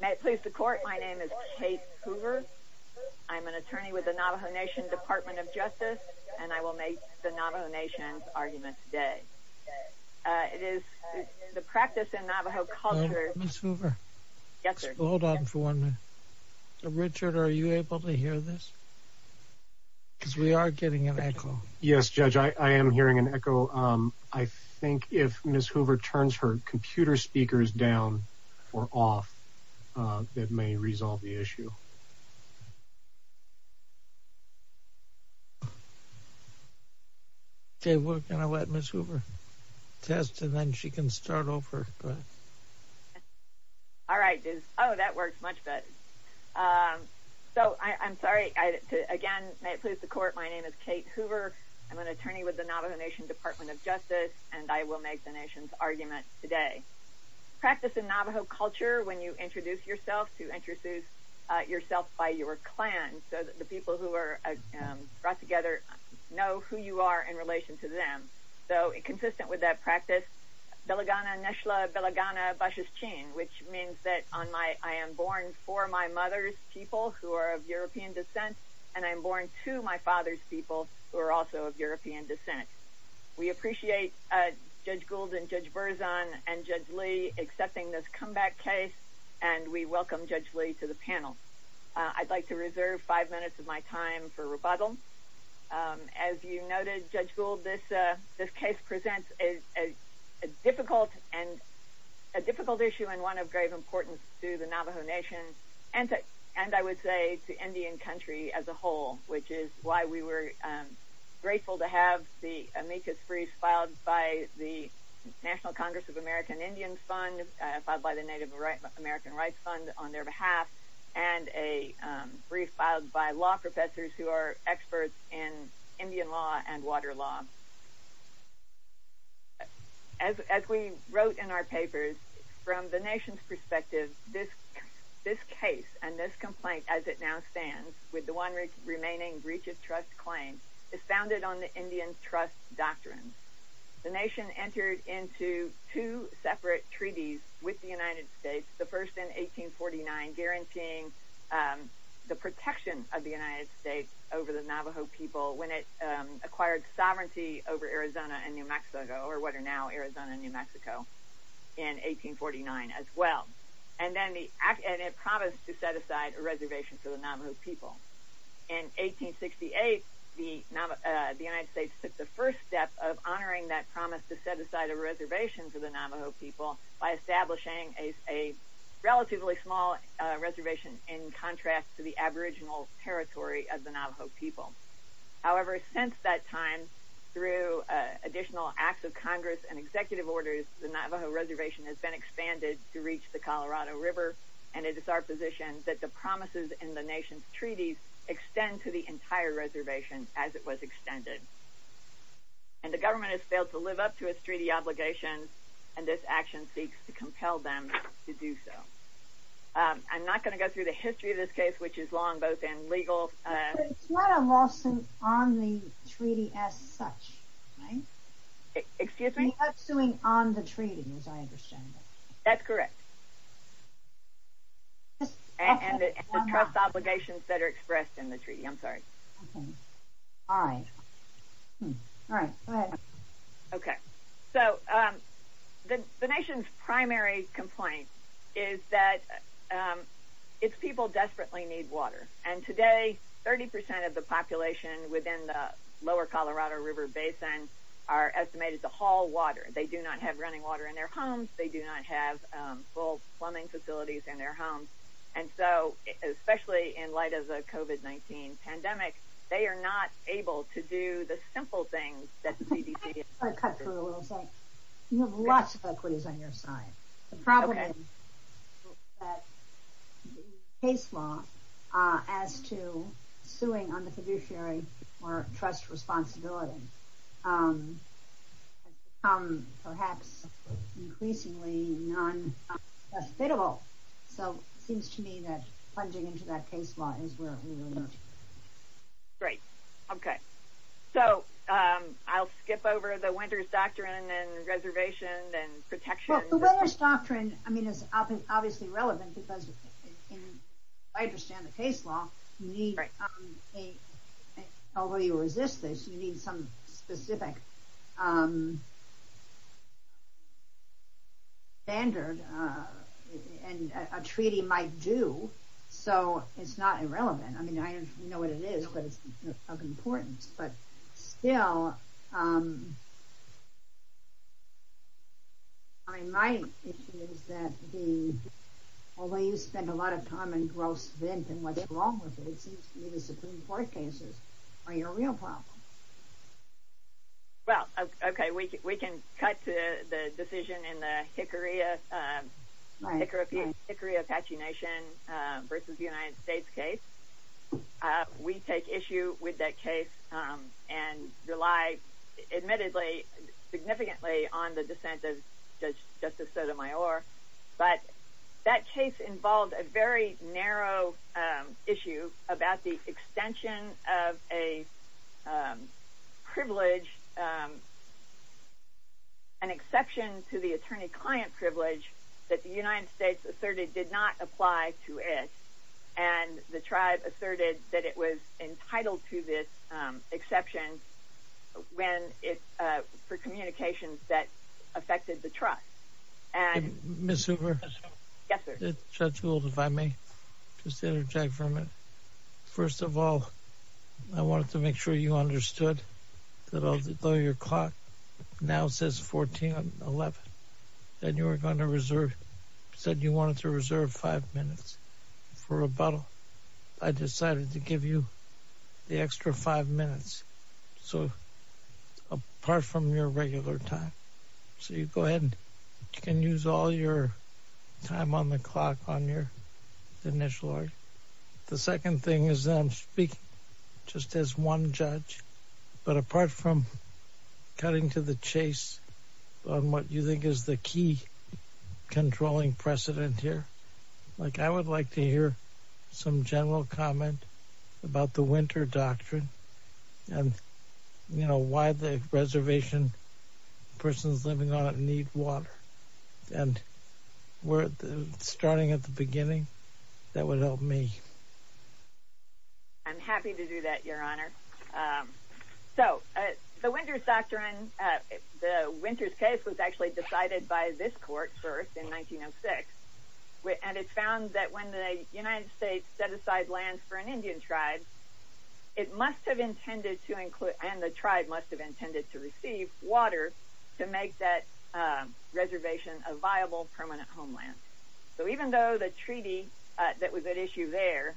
May it please the court, my name is Kate Hoover. I'm an attorney with the Navajo Nation Department of Justice and I will make the Navajo Nation argument today. It is the practice in Navajo culture. Hold on for one minute. Richard, are you able to hear this? Because we are getting an echo. Yes, Judge, I am hearing an echo. I think if Ms. Hoover turns her off, it may resolve the issue. Okay, we're going to let Ms. Hoover test and then she can start over. All right. Oh, that works much better. So I'm sorry. Again, may it please the court, my name is Kate Hoover. I'm an attorney with the Navajo Nation Department of Justice and I will make the nation's argument today. Practice in Navajo culture when you introduce yourself to introduce yourself by your clan so that the people who are brought together know who you are in relation to them. So consistent with that practice, which means that I am born for my mother's people who are of European descent and I'm born to my people. Thank you, Judge Gould and Judge Burzon and Judge Lee accepting this comeback case and we welcome Judge Lee to the panel. I'd like to reserve five minutes of my time for rebuttal. As you noted, Judge Gould, this case presents a difficult issue and one of great importance to the Navajo Nation and I would say to Indian country as a whole, which is why we were grateful to have the amicus brief filed by the National Congress of American Indians Fund, filed by the Native American Rights Fund on their behalf, and a brief filed by law professors who are experts in Indian law and water law. As we wrote in our papers, from the nation's perspective, this case and this complaint as it now stands, with the one remaining breach of trust claim, is founded on the Indian trust doctrine. The nation entered into two separate treaties with the United States, the first in 1849, guaranteeing the protection of the United States over the Navajo people when it acquired sovereignty over Arizona and New Mexico, now Arizona and New Mexico, in 1849 as well. And then it promised to set aside a reservation for the Navajo people. In 1868, the United States took the first step of honoring that promise to set aside a reservation for the Navajo people by establishing a relatively small reservation in contrast to the aboriginal territory of the Navajo people. However, since that time, through additional acts of Congress and executive orders, the Navajo reservation has been expanded to reach the Colorado River, and it is our position that the promises in the nation's treaties extend to the entire reservation as it was extended. And the government has failed to live up to its treaty obligations, and this action seeks to compel them to do so. I'm not going to go through the history of this case, which is long, both in legal... It's not a lawsuit on the treaty as such, right? Excuse me? It's a lawsuit on the treaty, as I understand it. That's correct. And the trust obligations that are expressed in the treaty, I'm sorry. All right. All right, go ahead. Okay. So the nation's primary complaint is that its people desperately need water. And today, 30% of the population within the lower Colorado River basin are estimated to haul water. They do not have running water in their homes. They do not have full plumbing facilities in their homes. And so, especially in light of the COVID-19 pandemic, they are not able to do the simple things that the CDC is... I'll cut through a little bit. You have lots of equities on your side. Okay. The problem is that the case law as to suing on the fiduciary or trust responsibility has become perhaps increasingly non-accessible. So it seems to me that plunging into that case law is where it really is. Great. Okay. So I'll skip over the Winter's Doctrine and reservation and protection. Well, the Winter's Doctrine, I mean, it's obviously relevant because as I understand the case law, although you resist this, you need some specific standard and a treaty might do. So it's not irrelevant. I mean, I don't know what it is, but it's of importance. But still, I mean, my issue is that the, well, we spend a lot of time and growth thinking what's wrong with the Supreme Court cases. Are you a real problem? Well, okay. We can cut to the decision in the Hickory Apache Nation versus the United States case. We take issue with that case and rely, admittedly, significantly on the dissent of Justice Sotomayor. But that case involved a very narrow issue about the extension of a privilege, an exception to the attorney-client privilege that the United States asserted did not apply to it. And the tribe asserted that it was entitled to this exception for communications that affected the trust. Ms. Hoover, if the judge will, if I may. First of all, I wanted to make sure you understood that although your clock now says 1411, that you were going to reserve, said you wanted to reserve five minutes for rebuttal, I decided to give you the extra five minutes. So apart from your regular time. So you go ahead and you can use all your time on the clock on your initial order. The second thing is that I'm speaking just as one judge, but apart from cutting to the chase on what you think is the key controlling precedent here, like I would like to hear some general comment about the winter doctrine and, you know, why the reservation persons living need water. And starting at the beginning, that would help me. I'm happy to do that, your honor. So the winter's doctrine, the winter's case was actually decided by this court first in 1906. And it found that when the United States set aside lands for an Indian tribe, it must have intended to include, and the tribe must have intended to receive water to make that reservation a viable permanent homeland. So even though the treaty that was at issue there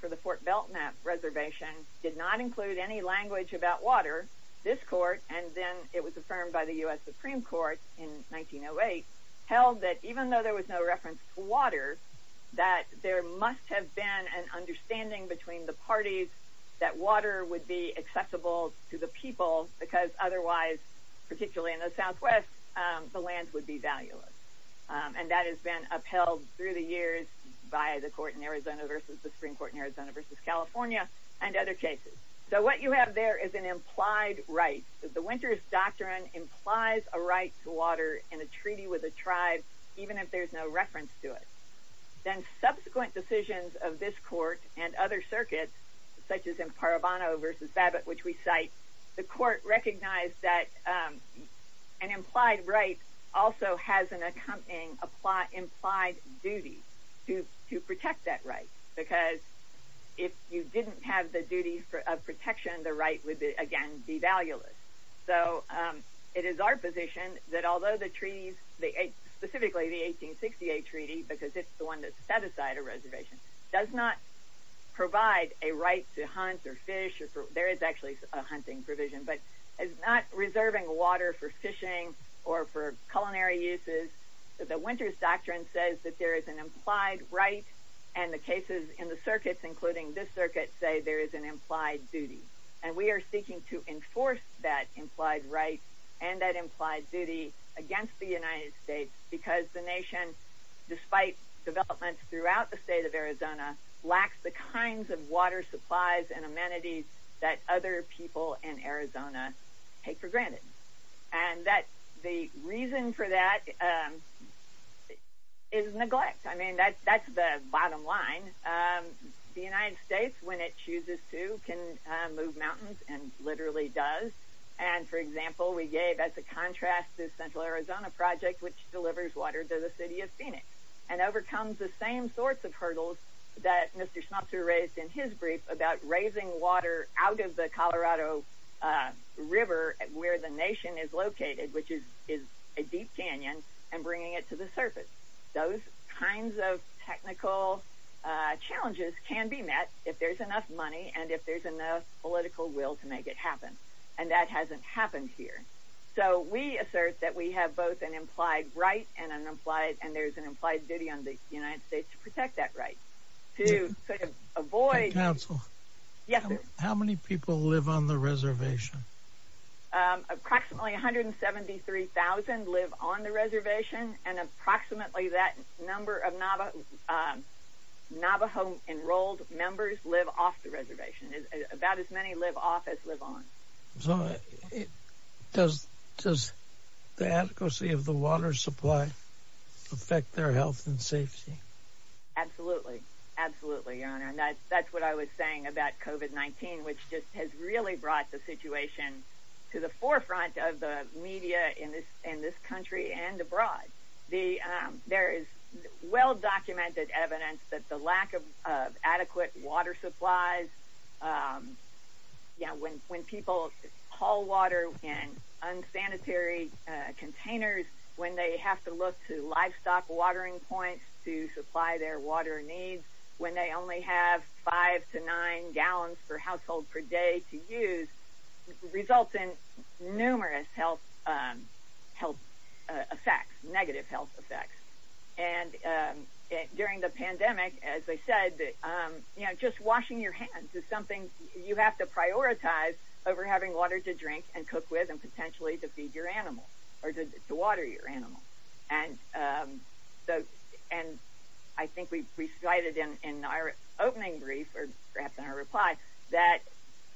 for the Fort Belknap reservation did not include any language about water, this court, and then it was affirmed by the U.S. Supreme Court in 1908, held that even though there was no reference to water, that there must have been an understanding between the parties that water would be accessible to the people because otherwise, particularly in the southwest, the lands would be valueless. And that has been upheld through the years by the court in Arizona versus the Supreme Court in Arizona versus California and other cases. So what you have there is an implied right. The winter's doctrine implies a right to water in a treaty with a tribe even if there's no reference to it. Then subsequent decisions of this court and other circuits such as in Parabano versus Babbitt, which we cite, the court recognized that an implied right also has an accompanying implied duty to protect that right. Because if you didn't have the duty for protection, the right would again be valueless. So it is our position that although the treaties, specifically the 1868 treaty, because it's the one that set aside a reservation, does not provide a right to hunt or fish, there is actually a hunting provision, but it's not reserving water for fishing or for culinary uses. The winter's doctrine says that there is an implied right and the cases in the circuits, including this circuit, say there is an implied duty. And we are seeking to enforce that implied right and that implied duty against the United States because the nation, despite developments throughout the state of Arizona, lacks the kinds of water supplies and amenities that other people in Arizona take for granted. And the reason for that is neglect. I mean, that's the bottom line. The United States, when it chooses to, can move mountains and literally does. And for example, we gave as a contrast to Central Arizona project, which delivers water to the city of Phoenix and overcomes the same sorts of hurdles that Mr. Schmupzer raised in his brief about raising water out of the Colorado River where the nation is located, which is a deep canyon, and bringing it to the surface. Those kinds of technical challenges can be met if there's enough money and if there's enough political will to make it happen. And that hasn't happened here. So we assert that we have both an implied right and an implied, and there's an implied duty on the United States to protect that right to avoid. How many people live on the reservation? Approximately 173,000 live on the reservation and approximately that number of Navajo enrolled members live off the reservation. About as many office live on. Does the adequacy of the water supply affect their health and safety? Absolutely. Absolutely. And that's what I was saying about COVID-19, which just has really brought the situation to the forefront of the media in this country and abroad. There is well-documented evidence that the lack of adequate water supplies, when people haul water in unsanitary containers, when they have to look to livestock watering points to supply their water needs, when they only have five to nine gallons per household per day to use, results in numerous health effects, negative health effects. And during the pandemic, as I said, just washing your hands is something you have to prioritize over having water to drink and cook with and potentially to feed your animals or to water your animals. And I think we grasp our reply that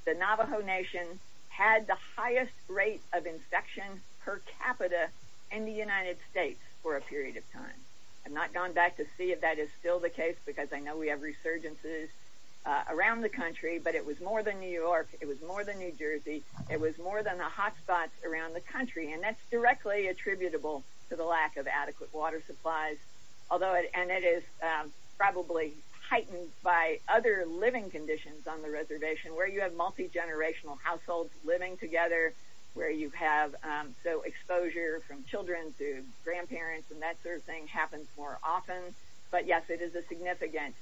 the Navajo Nation had the highest rate of infection per capita in the United States for a period of time. I've not gone back to see if that is still the case because I know we have resurgences around the country, but it was more than New York. It was more than New Jersey. It was more than the hotspots around the country. And that's directly attributable to the lack of living conditions on the reservation, where you have multi-generational households living together, where you have exposure from children to grandparents, and that sort of thing happens more often. But yes, it is a significant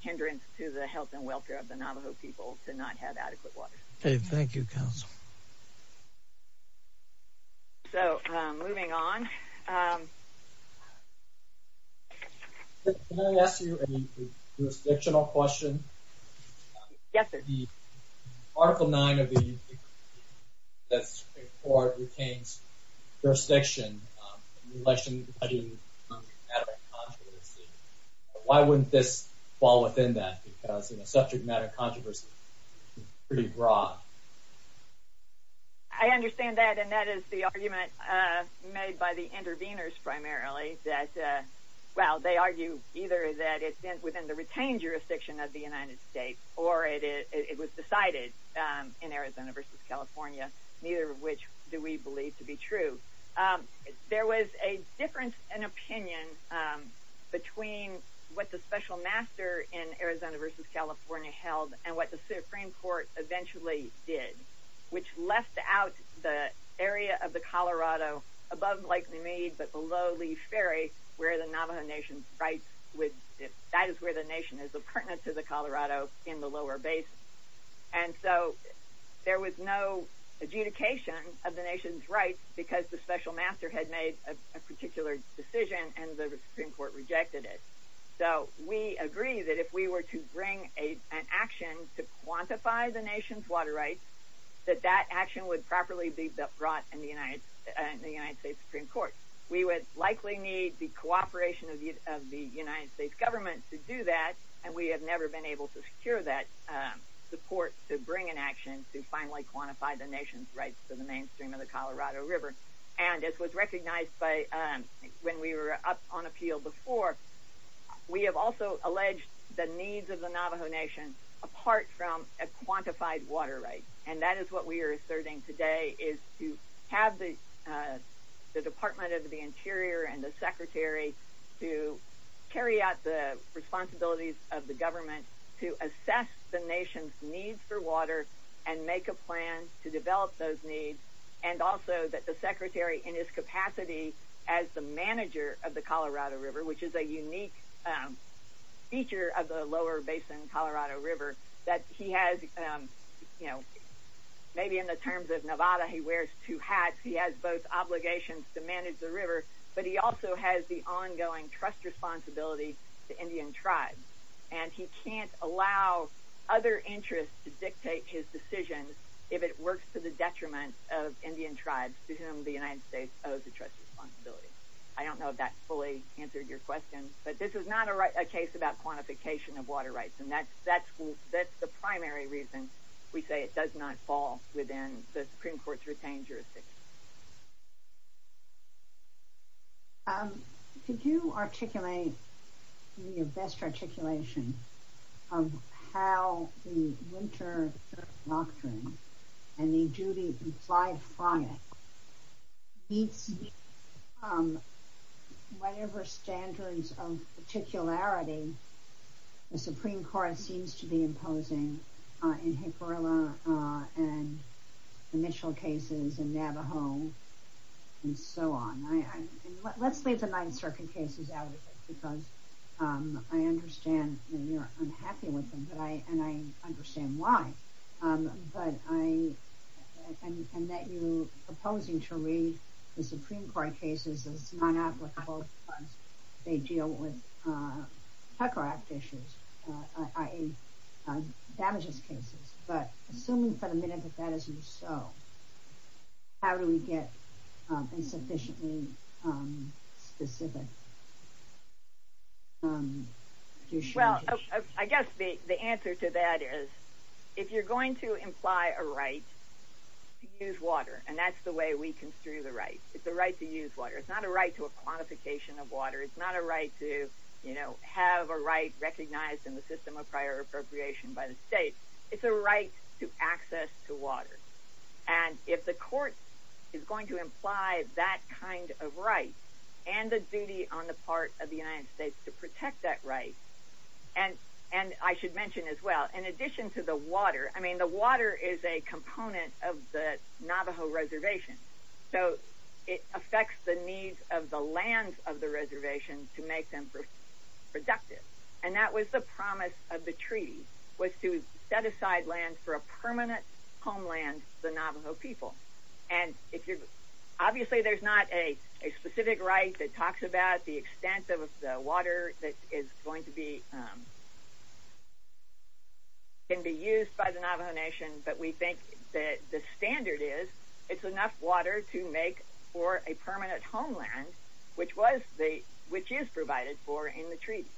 hindrance to the health and welfare of the Navajo people to not have adequate water. Thank you, Counsel. So moving on. Can I ask you a jurisdictional question? Yes, sir. The Article 9 of the U.S. Department of the Interior that's before it retains jurisdiction. Why wouldn't this fall within that? Because subject matter controversy is pretty broad. I understand that, and that is the argument made by the interveners primarily that, well, they argue either that it's within the retained jurisdiction of the United States or it was decided in Arizona versus California, neither of which do we believe to be true. There was a difference in opinion between what the special master in Arizona versus California held and what the did, which left out the area of the Colorado above Lake Mimid but below Leash Ferry, where the Navajo Nation's rights, that is where the nation is pertinent to the Colorado in the lower base. And so there was no adjudication of the nation's rights because the special master had made a particular decision and the Supreme Court rejected it. So we agree that if we were to bring an action to quantify the nation's water rights, that that action would properly be brought in the United States Supreme Court. We would likely need the cooperation of the United States government to do that, and we have never been able to secure that support to bring an action to finally quantify the nation's rights to the mainstream of the Colorado River. And it was the Navajo Nation apart from a quantified water right, and that is what we are asserting today, is to have the Department of the Interior and the Secretary to carry out the responsibilities of the government to assess the nation's need for water and make a plan to develop those needs, and also that the Secretary in his capacity as the manager of the Colorado River, which is a unique feature of the lower basin Colorado River, that he has, you know, maybe in the terms of Nevada, he wears two hats. He has both obligations to manage the river, but he also has the ongoing trust responsibility to Indian tribes, and he can't allow other interests to dictate his decisions if it works to the detriment of Indian tribes to whom the United States owes the trust responsibility. I don't know if that fully answered your question, but this is not a case about quantification of water rights, and that's the primary reason we say it does not fall within the Supreme Court's retained jurisdiction. Could you articulate your best articulation of how the winter lockdown and the duty of the five products meet whatever standards of particularity the Supreme Court seems to be on? Let's leave the Ninth Circuit case because I understand, and I'm happy with them, and I understand why, and that you're proposing to read the Supreme Court cases, they deal with insufficiently specific jurisdictions. Well, I guess the answer to that is if you're going to imply a right to use water, and that's the way we construe the right, it's a right to use water. It's not a right to a quantification of water. It's not a right to, you know, have a right recognized in the system of prior appropriation by the state. It's a right to access to water, and if the court is going to imply that kind of right and the duty on the part of the United States to protect that right, and I should mention as well, in addition to the water, I mean, the water is a component of the Navajo reservation, so it affects the needs of the lands of the reservation to make them productive, and that was the promise of the treaty was to set land for a permanent homeland for the Navajo people, and obviously there's not a specific right that talks about the extent of the water that is going to be used by the Navajo Nation, but we think that the standard is it's enough water to make for a permanent homeland, which was the, which is provided for in the treaty,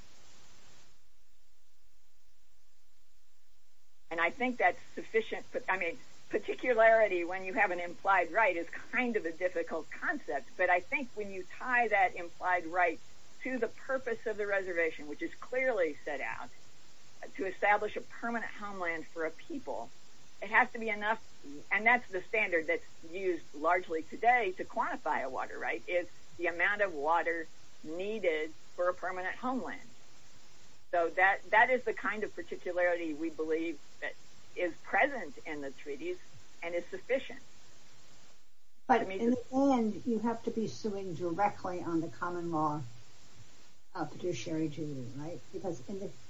and I think that's sufficient, I mean, particularity when you have an implied right is kind of a difficult concept, but I think when you tie that implied right to the purpose of the reservation, which is clearly set out to establish a permanent homeland for a people, it has to be and that's the standard that's used largely today to quantify a water right, is the amount of water needed for a permanent homeland, so that is the kind of particularity we believe that is present in the treaties and is sufficient. But in the end, you have to be suing directly on the common law judiciary duty, right, because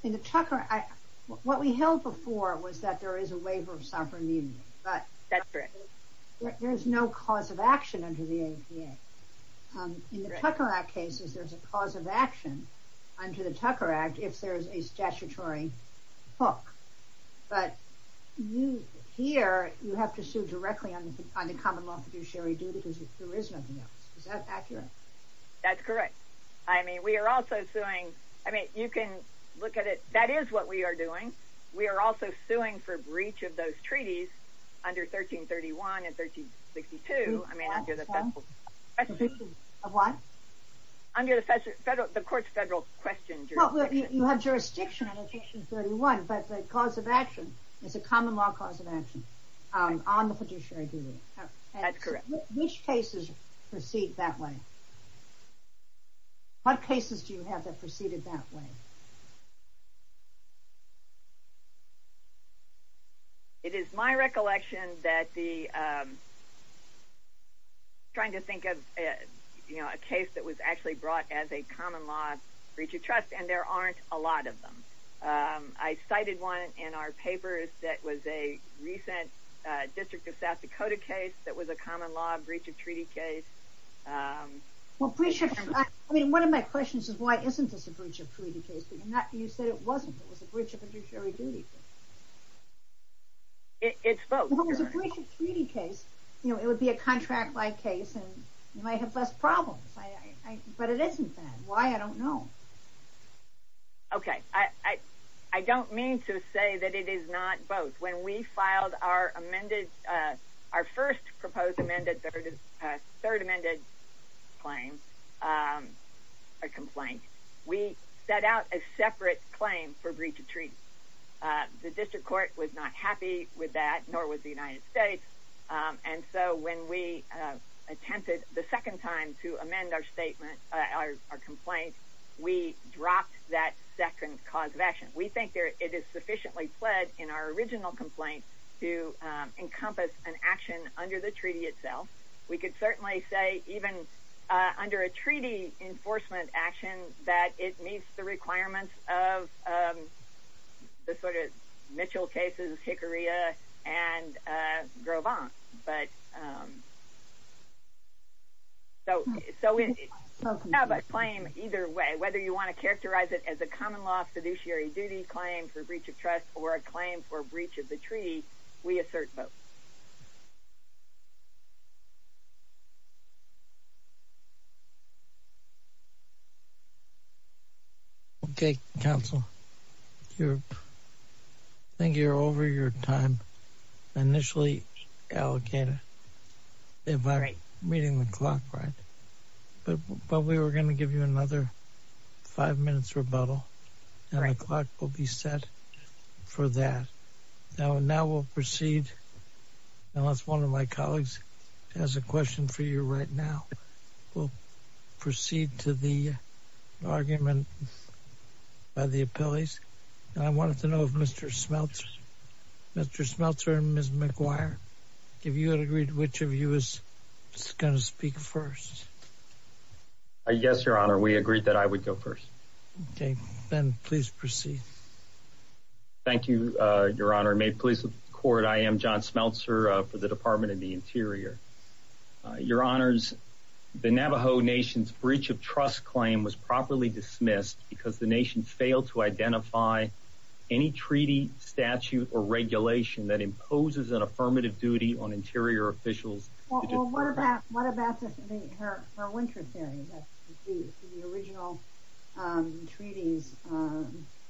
in the Tucker, what we held before was that there is a waiver of sovereignty, but there's no cause of action under the ADA. In the Tucker Act cases, there's a cause of action under the Tucker Act if there's a statutory book, but you, here, you have to sue directly on the common law judiciary duty because there is nothing else, is that accurate? That's correct. I mean, we are also suing, I mean, you can look at it, that is what we are doing. We are also suing for breach of those treaties under 1331 and 1362. Under the federal, the court's federal question. Well, you have jurisdiction under 1331, but the cause of action is the common law cause of action on the judiciary duty. That's correct. Which cases proceed that way? What cases do you have that proceeded that way? It is my recollection that the, I'm trying to think of a case that was actually brought as a common law breach of trust, and there aren't a lot of them. I cited one in our papers that was a recent District of South Dakota case that was a common law breach of treaty case. Well, breach of, I mean, one of my questions is why isn't this a breach of treaty case? You said it wasn't, it was a breach of a judiciary duty. It's both. Well, if it was a breach of treaty case, you know, it would be a contract-like case and you might have less problems, but it isn't that. Why? I don't know. Okay. I don't mean to say that it is not both. When we filed our amended, our first proposed amended, third amended claim, a complaint, we set out a separate claim for breach of treaty. The District Court was not happy with that, nor was the United States, and so when we attempted the second time to amend our statement, our complaint, we dropped that second cause of action. We think it is sufficiently fled in our original complaint to encompass an action under the treaty itself. We could certainly say even under a treaty enforcement action that it meets the requirements of the sort of Mitchell cases, Hickorya, and Gros Ventre, but so we have a claim either way, whether you want to characterize it as a common law fiduciary duty claim for the United States. Okay. Council, I think you're over your time. Initially allocated if I'm reading the clock right, but we were going to give you another five minutes rebuttal, and our clock will be set for that. Now we'll proceed. I lost one of my colleagues has a question for you right now. We'll proceed to the argument by the appellees, and I wanted to know if Mr. Smeltzer and Ms. McGuire, if you had agreed which of you was going to speak first. Yes, Your Honor, we agreed that I would go first. Okay, then please proceed. Thank you, Your Honor. May it please the court. I am John Smeltzer for the Department of the Interior. Your Honors, the Navajo Nation's breach of trust claim was properly dismissed because the nation failed to identify any treaty statute or regulation that imposes an treaty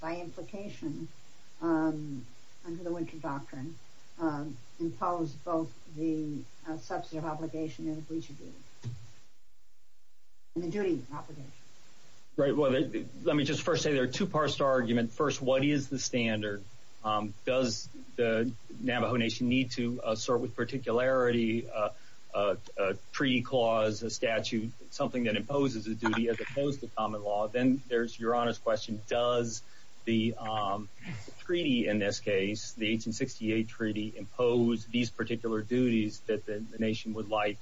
by implication under the Winter Doctrine and follows both the substantive obligation and the duty obligation. Right. Well, let me just first say there are two parts to our argument. First, what is the standard? Does the Navajo Nation need to assert with particularity a treaty clause, a statute, something that imposes a duty as there's, Your Honor's question, does the treaty in this case, the 1868 treaty, impose these particular duties that the nation would like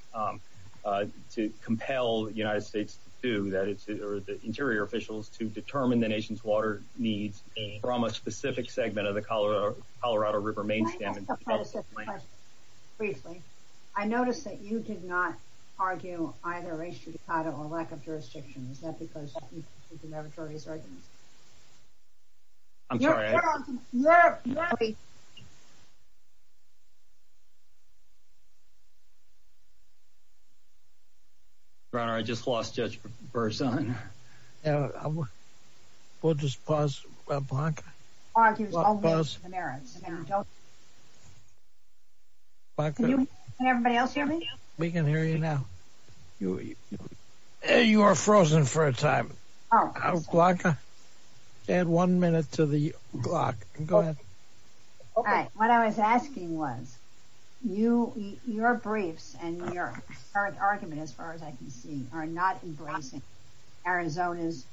to compel the United States to do, that is, the Interior officials to determine the nation's water needs from a specific segment of the Colorado River Main Standard? I noticed that you did not argue either issue, title, or lack of jurisdiction. Is that because you're the meritorious argument? I'm sorry. Your Honor, I just lost touch for a second. Can everybody else hear me? We can hear you now. You are frozen for a time. Glocka, add one minute to the clock. Go ahead. What I was asking was, your brief and your argument, as far as I can see, are not embracing Arizona's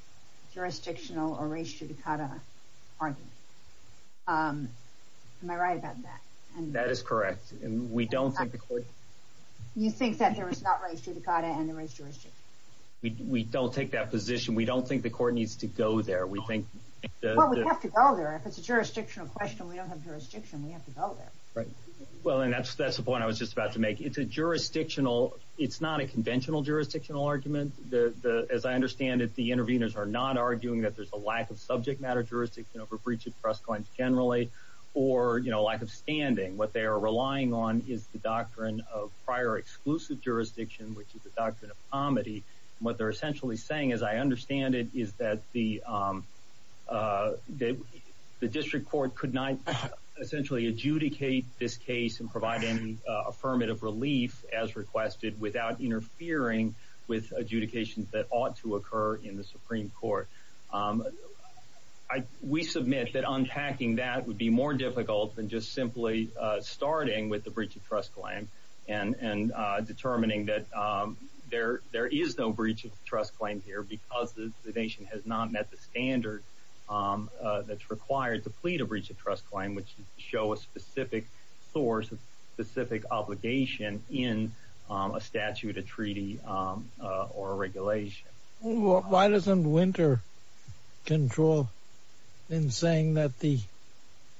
jurisdictional or race judicata argument. Am I right about that? That is correct. And we don't think the court... You think that there is not race judicata and the race jurisdiction? We don't take that position. We don't think the court needs to go there. We think... Well, we have to go there. If it's a jurisdictional question, we don't have jurisdiction. We have to go there. Right. Well, and that's the point I was just about to make. It's a jurisdictional... It's not a conventional jurisdictional argument. As I understand it, the interveners are not arguing that there's a lack of subject matter jurisdiction over breach of press claims, generally, or lack of standing. What they are relying on is the doctrine of prior exclusive jurisdiction, which is the doctrine of comity. What they're essentially saying, as I understand it, is that the district court could not essentially adjudicate this case and provide any affirmative relief as requested without interfering with adjudications that ought to occur in the Supreme Court. We submit that unpacking that would be more difficult than just simply starting with the breach of trust claim and determining that there is no breach of trust claim here because the nation has not met the standards that's required to plead a breach of trust claim, which would show a specific source, a specific obligation in a statute, a treaty, or a regulation. Why doesn't Winter control in saying that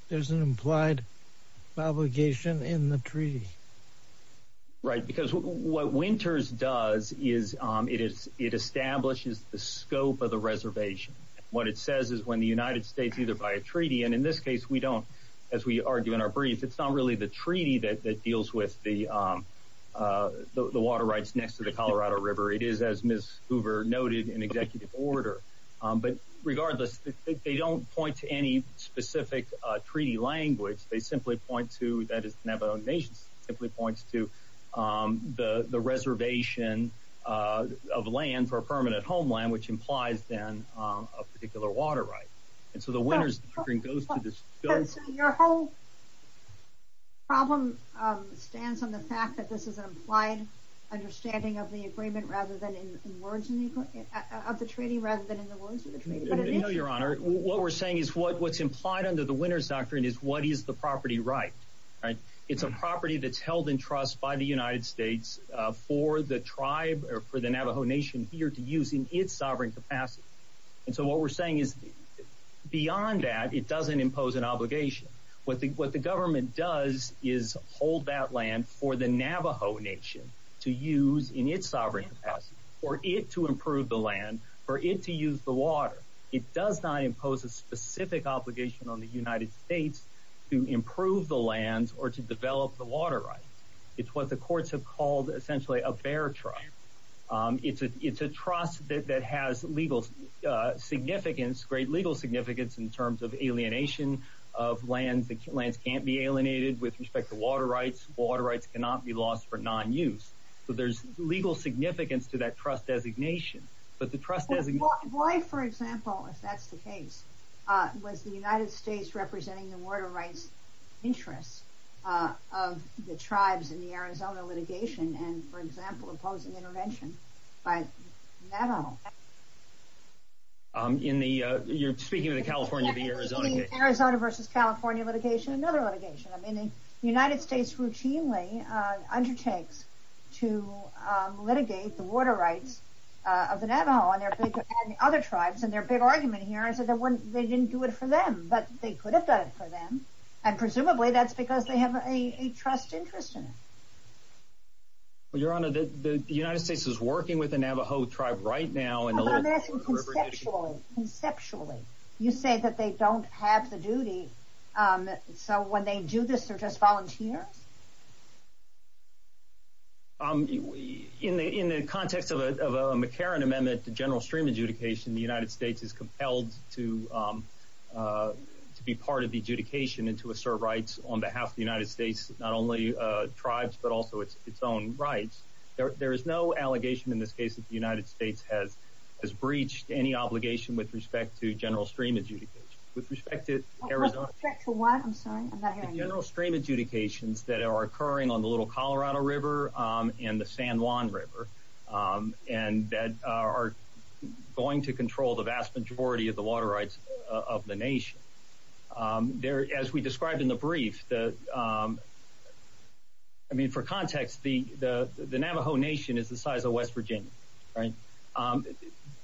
there's an implied obligation in the treaty? Right, because what Winter's does is it establishes the scope of the reservation. What it says is when the United States, either by a treaty, and in this case, we don't, as we argue in our brief, it's not really the treaty that deals with the water rights next to Colorado River. It is, as Ms. Hoover noted, an executive order. But regardless, they don't point to any specific treaty language. They simply point to that it's Navajo Nation. It simply points to the reservation of land for permanent homeland, which implies then a particular water right. And so the Winter's doctrine goes to this bill. Your whole problem stands on the fact that this is an implied understanding of the agreement rather than in words of the treaty rather than in the words of the treaty. I know, Your Honor. What we're saying is what's implied under the Winter's doctrine is what is the property right. It's a property that's held in trust by the United States for the tribe or for the Navajo Nation here to use in its sovereign capacity. And so what we're saying is beyond that, it doesn't impose an obligation. What the government does is hold that land for the Navajo Nation to use in its sovereign capacity, for it to improve the land, for it to use the water. It does not impose a specific obligation on the United States to improve the land or to develop the water rights. It's what the courts have called essentially a bear tribe. It's a trust that has legal significance, great legal significance in terms of alienation of land. The land can't be alienated with respect to water rights. Water rights cannot be lost for non-use. So there's legal significance to that trust designation. But the trust designation... Why, for example, if that's the case, was the United States representing the water rights interests of the tribes in the Arizona litigation and, for example, opposing intervention by Navajo? You're speaking of the California-Arizona case? Arizona versus California litigation, another litigation. I mean, the United States routinely undertakes to litigate the water rights of the Navajo and their other tribes. And their big argument here is that they didn't do it for them, but they could have done it for them. And presumably that's because they have a trust interest in it. Well, Your Honor, the United States is working with the Navajo tribe right now. Well, that's conceptual. Conceptually. You're saying that they don't have the duty. So when they do this, they're just volunteers? In the context of a McCarran Amendment to general stream adjudication, the United States is compelled to be part of the adjudication and to assert rights on behalf of the United States, not only tribes, but also its own rights. There is no allegation in this case that the United States has breached any obligation with respect to general stream adjudication. With respect to general stream adjudications that are occurring on the Little Colorado River and the San Juan River and that are going to control the vast majority of the water rights of the nation. As we described in the brief, for context, the Navajo Nation is the size of West Virginia.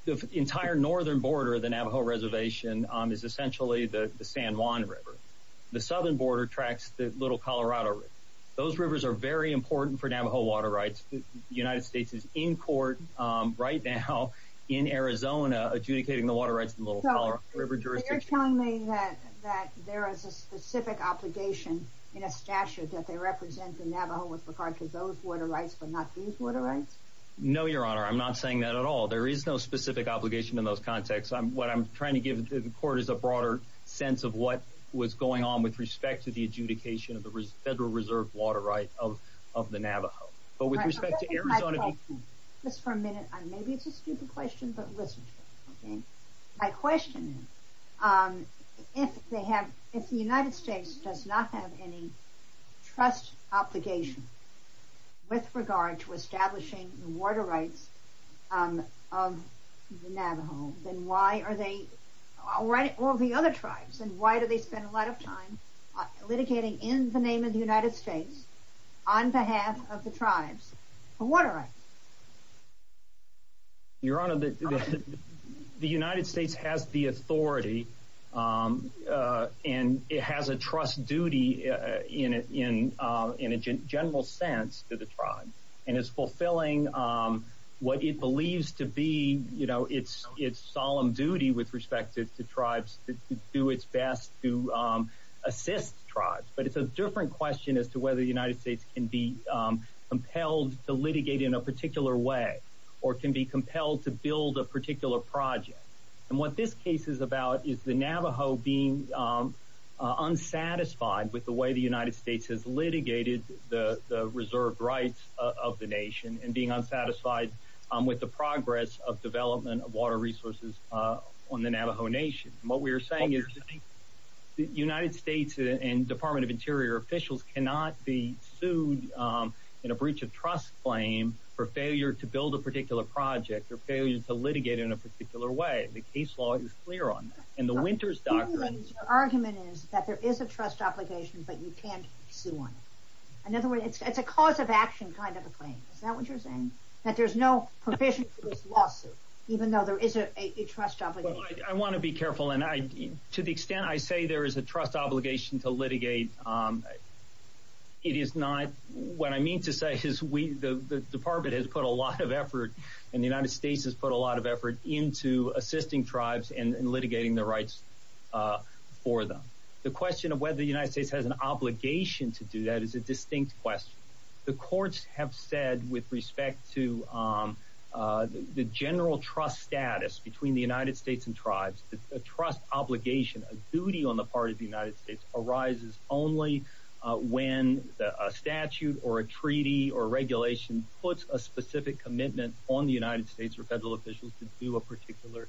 The entire northern border of the Navajo Reservation is essentially the San Juan River. The southern border tracks the Little Colorado River. Those rivers are very important for Navajo water rights. The United States is in court right now in Arizona adjudicating the water rights of the Little Colorado River. You're telling me that there is a specific obligation in a statute that they represent the Navajo with regard to those water rights, but not these water rights? No, your honor. I'm not saying that at all. There is no specific obligation in those contexts. What I'm trying to give the court is a broader sense of what was going on with respect to the adjudication of the Federal Reserve water rights of the Navajo. With respect to Arizona... Just for a minute, maybe it's a stupid question, but listen. My question is, if the United States does not have any trust obligation with regard to establishing the water rights of the Navajo, then why are they, all the other tribes, then why do they spend a lot of time litigating in the name of the United States on behalf of the tribes for water rights? Your honor, the United States has the authority and it has a trust duty in a general sense to the tribes. It's fulfilling what it believes to be its solemn duty with respect to the tribes to do its best to assist tribes. It's a different question as to whether the United States can be compelled to litigate in a particular way or can be compelled to build a particular project. What this case is about is the Navajo being unsatisfied with the way the United States has litigated the reserve rights of the nation and being unsatisfied with the progress of development of water resources on the Navajo Nation. What we cannot be sued in a breach of trust claim for failure to build a particular project or failure to litigate in a particular way. The case law is clear on that. The argument is that there is a trust obligation, but you can't sue on it. In other words, it's a cause of action kind of a claim. Is that what you're saying? That there's no provision for this lawsuit, even though there is a trust obligation? I want to be careful. To the extent I say there is a trust obligation to it is not what I mean to say is the department has put a lot of effort and the United States has put a lot of effort into assisting tribes and litigating the rights for them. The question of whether the United States has an obligation to do that is a distinct question. The courts have said with respect to the general trust status between the United States and tribes, the trust obligation, a duty on the part of the United States, arises only when a statute or a treaty or regulation puts a specific commitment on the United States or federal officials to do a particular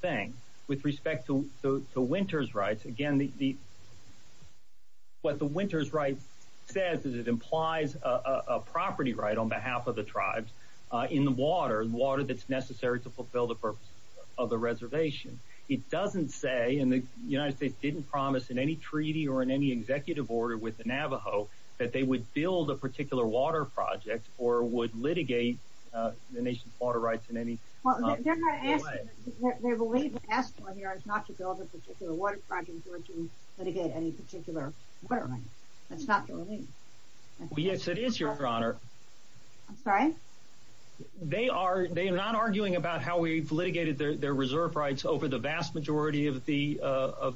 thing. With respect to Winter's Rights, again, what the Winter's Rights says is it implies a property right on behalf of the tribes in the water, water that's necessary to fulfill the reservation. It doesn't say, and the United States didn't promise in any treaty or in any executive order with the Navajo that they would build a particular water project or would litigate the nation's water rights in any way. Well, they're not asking, they believe what they're asking on here is not to build a particular water project or to litigate any particular water rights. That's not what it means. Yes, it is, Your Honor. I'm sorry? They are, arguing about how we litigated their reserve rights over the vast majority of the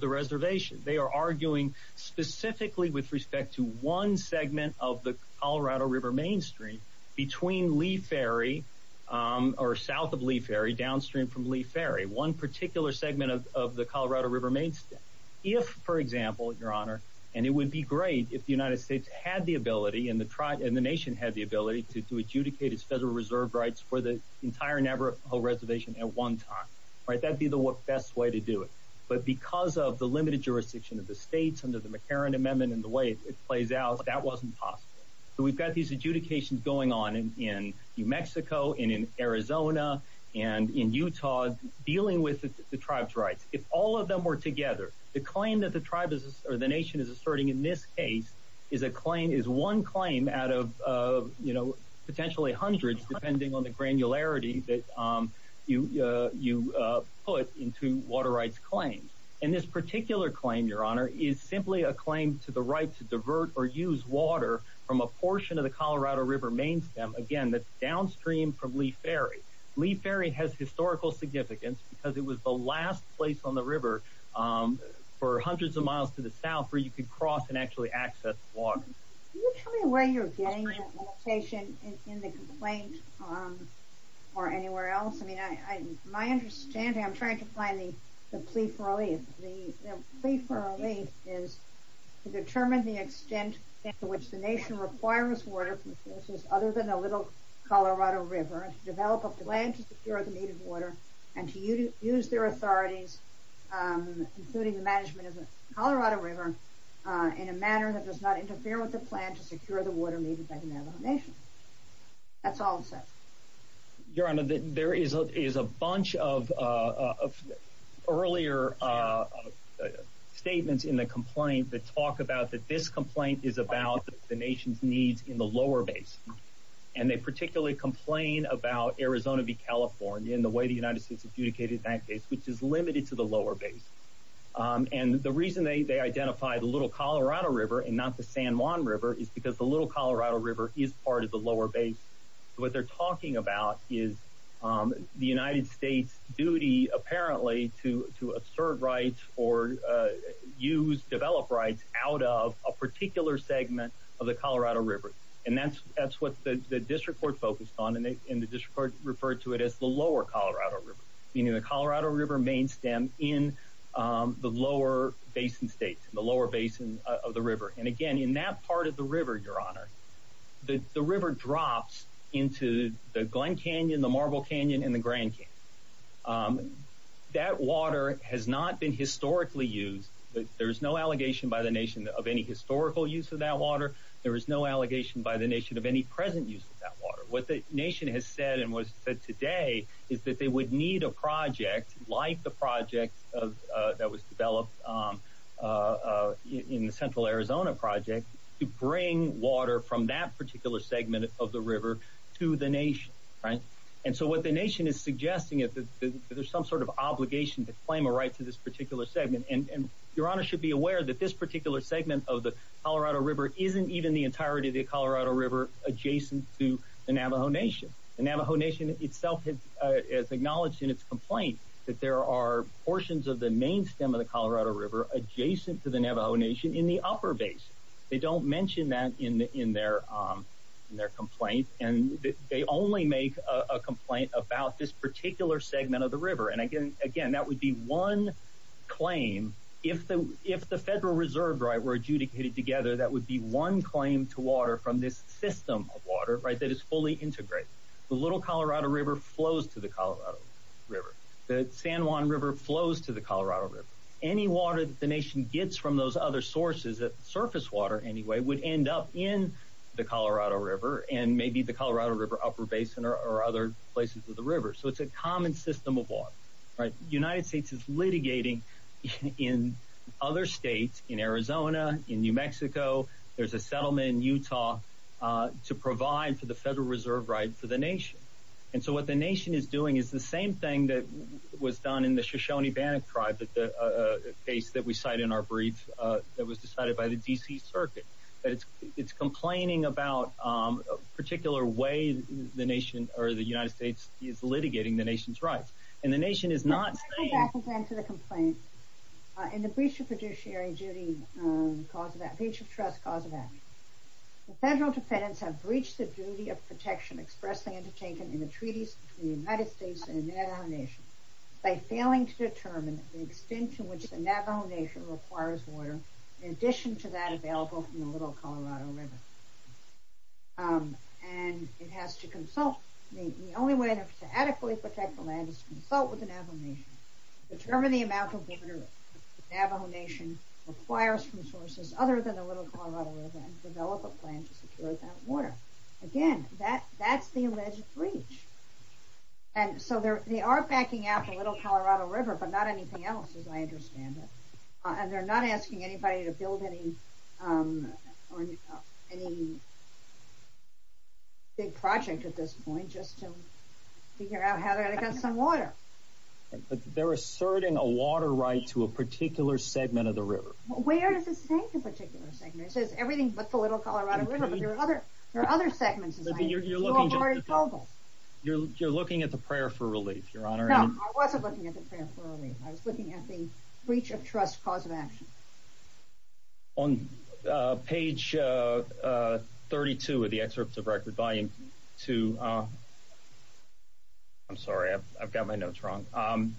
reservation. They are arguing specifically with respect to one segment of the Colorado River Mainstream between Lee Ferry or south of Lee Ferry, downstream from Lee Ferry, one particular segment of the Colorado River Mainstream. If, for example, Your Honor, and it would be great if the United States had the ability and the nation had the ability to adjudicate its federal reserve rights for the entire Navajo reservation at one time, right? That'd be the best way to do it. But because of the limited jurisdiction of the states and the McCarran Amendment and the way it plays out, that wasn't possible. So we've got these adjudications going on in New Mexico and in Arizona and in Utah dealing with the tribe's rights. If all of them were together, the claim that the tribe or the nation is asserting in this case is a claim, is one claim out of, you know, potentially hundreds depending on the granularity that you put into water rights claims. And this particular claim, Your Honor, is simply a claim to the right to divert or use water from a portion of the Colorado River Mainstream, again, that's downstream from Lee Ferry. Lee Ferry has historical significance because it was the last place on the river for hundreds of miles to the south where you could cross and actually access water. Can you tell me where you're getting that location in the complaint or anywhere else? I mean, my understanding, I'm trying to find the plea for release. The plea for release is to determine the extent to which the nation requires water from sources other than a little Colorado River, to develop a plan to secure the needed water, and to use their authority, including the management of the Colorado River, in a manner that does not interfere with the plan to secure the water needed by the Navajo Nation. That's all it says. Your Honor, there is a bunch of earlier statements in the complaint that talk about that this complaint is about the nation's needs in the lower basin. And they particularly complain about Arizona v. California and the way the United States adjudicated that case, which is limited to the lower basin. And the reason they identify the Little Colorado River and not the San Juan River is because the Little Colorado River is part of the lower basin. So what they're talking about is the United States' duty, apparently, to observe rights or use, develop rights out of a particular segment of the Colorado River. And that's what the district court focused on, and the district court referred to it as the lower Colorado River. You know, the Colorado River main stem in the lower basin states, in the lower basin of the river. And again, in that part of the river, Your Honor, the river drops into the Glen Canyon, the Marble Canyon, and the Grand Canyon. That water has not been historically used. There's no allegation by the nation of any historical use of that water. There is no allegation by the nation of any present use of that water. What the nation has said today is that they would need a project like the project that was developed in the Central Arizona project to bring water from that particular segment of the river to the nation, right? And so what the nation is suggesting is that there's some sort of obligation to claim a right to this particular segment. And Your Honor should be aware that this particular segment of the Colorado River isn't even the entirety of the Colorado River adjacent to the Navajo Nation. The Navajo Nation itself has acknowledged in its complaint that there are portions of the main stem of the Colorado River adjacent to the Navajo Nation in the upper base. They don't mention that in their complaint. And they only make a complaint about this particular segment of the river. And again, that would be one claim. If the Federal Reserve were adjudicated together, that would be one claim to water from this system of water, right, that is fully integrated. The Little Colorado River flows to the Colorado River. The San Juan River flows to the Colorado River. Any water that the nation gets from those other sources, surface water anyway, would end up in the Colorado River and maybe the Colorado River upper basin or other places of the river. So it's a common system of water, right? The United States is litigating in other states, in Arizona, in New Mexico, there's a settlement in Utah to provide for the Federal Reserve rights to the nation. And so what the nation is doing is the same thing that was done in the Shoshone-Bannock tribe, a case that we cite in our brief that was decided by the D.C. Circuit. It's complaining about a particular way the nation or the United States is litigating the nation's rights. And the nation is not. I'm going to go back to the complaint. In the breach of judiciary duty, breach of trust cause of action, the federal defendants have breached the duty of protection expressed and undertaken in the treaties between the United States and the Navajo Nation by failing to determine the extent to which the Navajo Nation requires water in addition to that available from the Little Colorado River. And it has to consult, the only way to adequately protect the land is to consult with the Navajo Nation. Determine the amount of water the Navajo Nation requires from sources other than the Little Colorado River and develop a plan to secure that water. Again, that's the alleged breach. And so they are backing out the Little Colorado River, but not anything else, as I understand it. And they're not asking anybody to build any big project at this point just to figure out how to get some water. But they're asserting a water right to a particular segment of the river. Where does it say a particular segment? It says everything but the Little Colorado River, but there are other segments. You're looking at the prayer for relief, Your Honor. No, I wasn't looking at the prayer for relief. I was looking at the breach of trust cause of action. On page 32 of the excerpt of record, volume two, I'm sorry, I've got my notes wrong.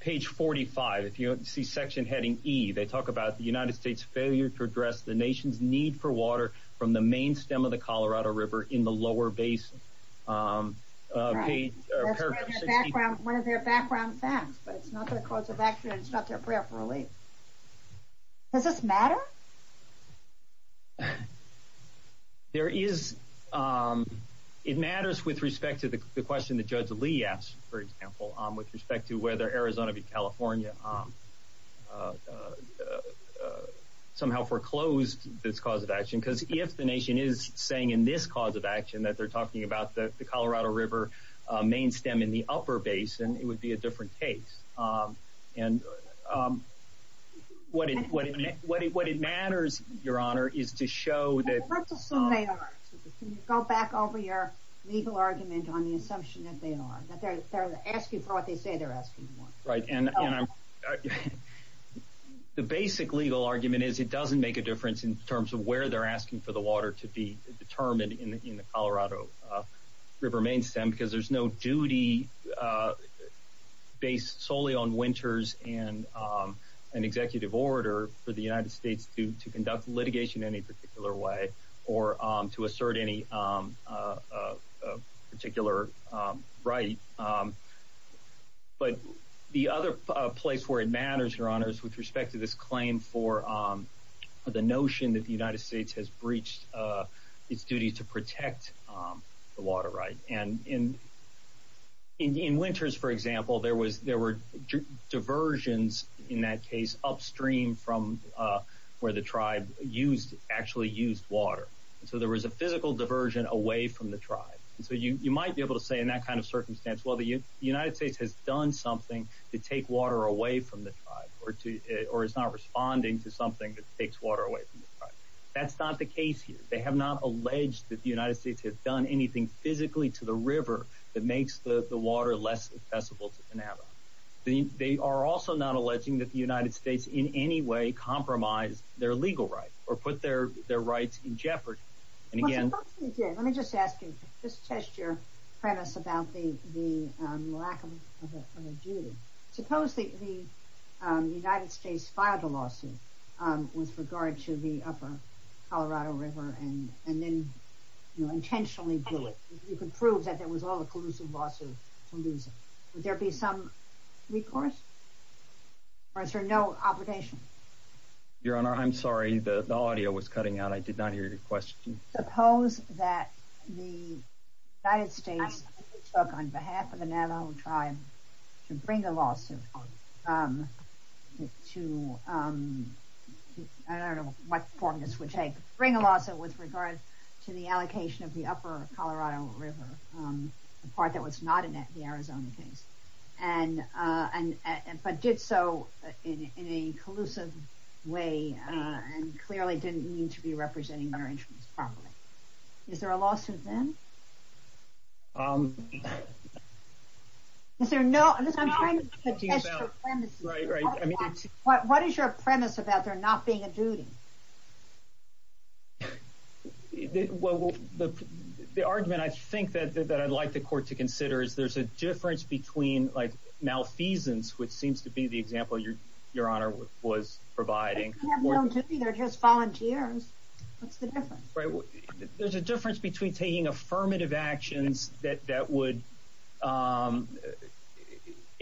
Page 45, if you see section heading E, they talk about the United States failure to address the nation's need for water from the main stem of the Colorado River in the lower basin. Right. Page, paragraph 60. One of their background facts, but not going to close the back there and shut their prayer for relief. Does this matter? There is. It matters with respect to the question that Judge Lee asked, for example, with respect to whether Arizona v. California somehow foreclosed this cause of action. Because if the nation is saying in this cause of action that they're talking about the Colorado River main stem in the upper basin, it would be a different case. What it matters, Your Honor, is to show that... First of all, go back over your legal argument on the assumption that they are. The basic legal argument is it doesn't make a difference in terms of where they're asking for water to be determined in the Colorado River main stem, because there's no duty based solely on winters and an executive order for the United States to conduct litigation in any particular way or to assert any particular right. But the other place where it matters, Your Honor, is with respect to this claim for the notion that the United States has breached its duty to protect the water right. And in winters, for example, there were diversions in that case upstream from where the tribe actually used water. So there was a physical diversion away from the tribe. So you might be able to say in that kind of circumstance, well, the United States has done something to take water away from the tribe or is not responding to something that takes water away from the tribe. That's not the case here. They have not alleged that the United States has done anything physically to the river that makes the water less accessible to Canada. They are also not alleging that the United States in any way compromised their legal rights or put their rights in jeopardy. Let me just ask you, just test your premise about the lack of duty. Suppose that the United States filed a lawsuit with regard to the upper Colorado River and then intentionally do it. You could prove that there was all the collusive lawsuits. Would there be some recourse or no obligation? Your Honor, I'm sorry. The audio was cutting out. I did not hear your question. Suppose that the United States spoke on behalf of the Navajo tribe to bring a lawsuit. I don't know what form this would take. Bring a lawsuit with regard to the allocation of the upper Colorado River, the part that was not in the Arizona case, but did so in a collusive way and clearly didn't mean to be representing their interests properly. Is there a lawsuit then? What is your premise about there not being a duty? The argument I think that I'd like the court to consider is there's a difference between malfeasance, which seems to be the example your Honor was providing. You have no duty. They're just volunteers. There's a difference between taking affirmative actions that would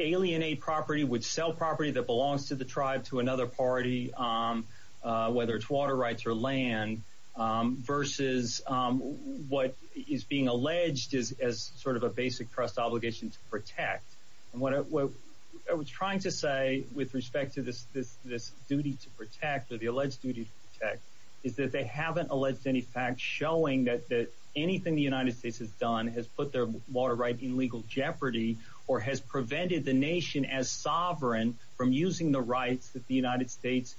alienate property, would sell property that belongs to the tribe to another party, whether it's water rights or land, versus what is being alleged as sort of a basic trust obligation to protect. What I was trying to say with respect to this duty to protect or the alleged duty to protect is that they haven't alleged any facts showing that anything the United States has done has put their water rights in legal jeopardy or has prevented the nation as sovereign from using the rights of the United States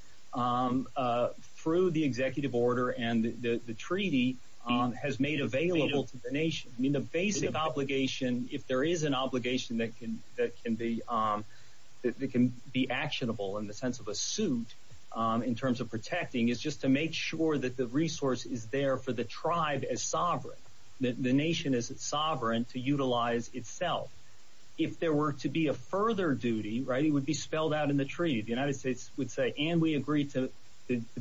through the executive order and the treaty has made available to the nation. The basic obligation, if there is an obligation that can be actionable in the sense of a suit in terms of protecting, is just to make sure that the resource is there for the tribe as sovereign, that the nation is sovereign to utilize itself. If there were to be a further duty, it would be spelled out in the treaty. The United States would say, and we agree to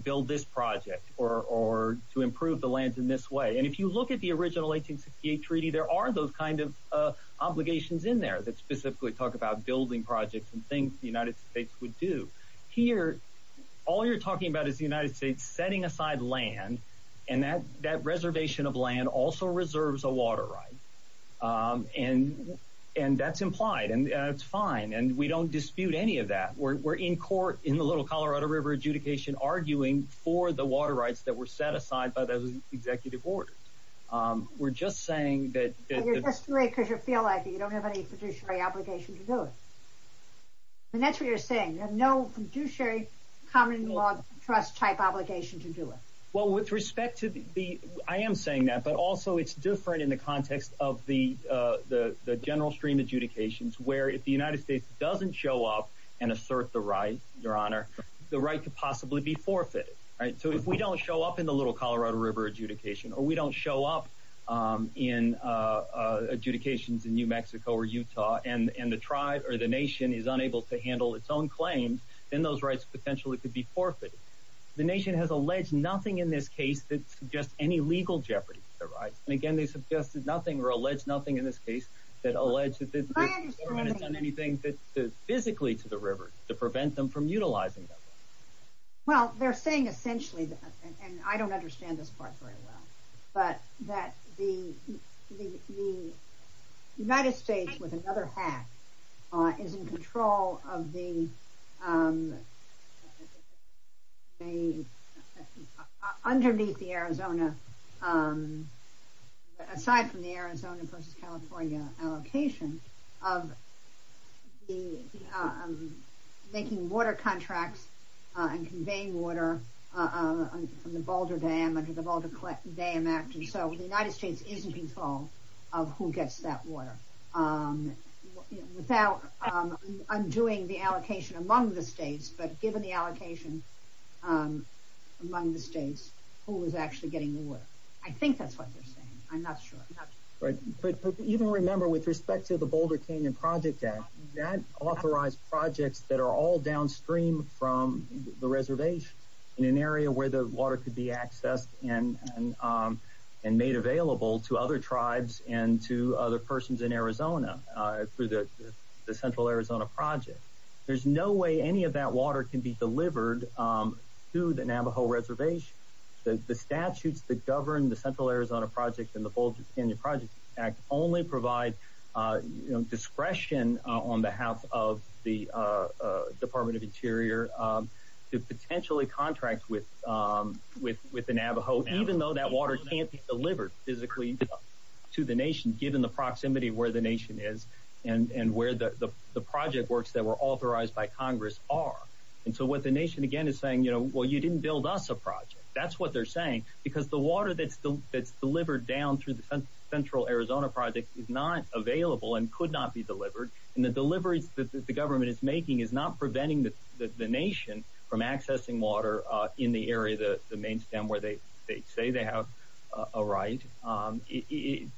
build this project or to improve the lands in this way. If you look at the original 1868 treaty, there are those kinds of obligations in there that specifically talk about building projects and things the United States would do. Here, all you're talking about is the United States setting aside land and that reservation of land also reserves a water right. That's implied and it's fine. We don't dispute any of that. We're in court in the Little Colorado River adjudication arguing for the water rights that were set aside by the executive order. We're just saying that- You're just doing it because you feel like it. You don't have any fiduciary obligation to do it. That's what you're saying. There's no fiduciary common law trust type obligation to do it. Well, with respect to the... I am saying that, but also it's different in the context of the general stream adjudications where if the United States doesn't show up and assert the right, your honor, the right could possibly be forfeited. If we don't show up in the Little Colorado River adjudication or we don't show up in adjudications in New Mexico or Utah and the tribe or the nation is unable to handle its own claims, then those rights potentially could be forfeited. The nation has alleged nothing in this case that suggests any legal jeopardy to their rights. Again, they suggested nothing or alleged nothing in this case that alleges that this person hasn't done anything physically to the river to prevent them from utilizing them. Well, they're saying essentially that, and I don't understand this part very well, but that the United States with another hat is in control of the... Underneath the Arizona... Of the making water contracts and conveying water from the Boulder Dam and the Boulder Collective Dam Act, and so the United States is in control of who gets that water. I'm doing the allocation among the states, but given the allocation among the states, who is actually getting the water? I think that's what they're saying. I'm not sure. But even remember, with respect to the Boulder Canyon Project Act, that authorized projects that are all downstream from the reservation in an area where the water could be accessed and made available to other tribes and to other persons in Arizona through the Central Arizona Project. There's no way any of that water can be delivered to the Navajo reservation. The statutes that govern the Central Arizona Project and the Boulder Canyon Project Act only provide discretion on behalf of the Department of Interior to potentially contract with the Navajo, even though that water can't be delivered physically to the nation, given the proximity of where the nation is and where the project works that were authorized by Congress are. What the nation, again, is saying, well, you didn't build us a project. That's what they're saying, because the water that's delivered down through the Central Arizona Project is not available and could not be delivered, and the delivery that the government is making is not preventing the nation from accessing water in the area of the main stem where they say they have a right. In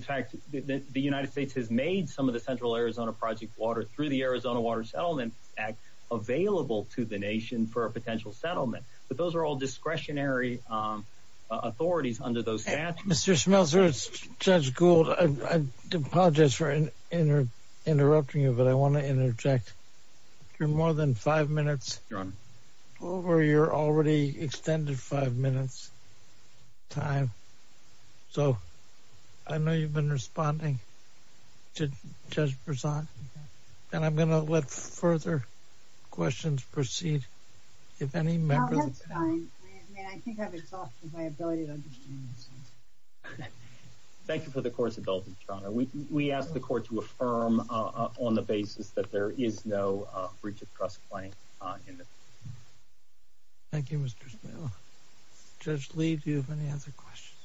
fact, the United States has made some of the Central Arizona Project water through the Arizona Water Settlement Act available to the nation for a potential settlement, but those are all discretionary authorities under those statutes. Mr. Schmelzer, Judge Gould, I apologize for interrupting you, but I want to interject. You're more than five minutes over your already extended five minutes time, so I know you've been responding to Judge Brisson, and I'm going to let further questions proceed. If any members... Oh, that's fine, and I think I've exhausted my ability to understand. Thank you for the court's indulgence, Your Honor. We ask the court to affirm on the basis that there is no breach of trust claim in this. Thank you, Mr. Schmelzer. Judge Lee, do you have any other questions?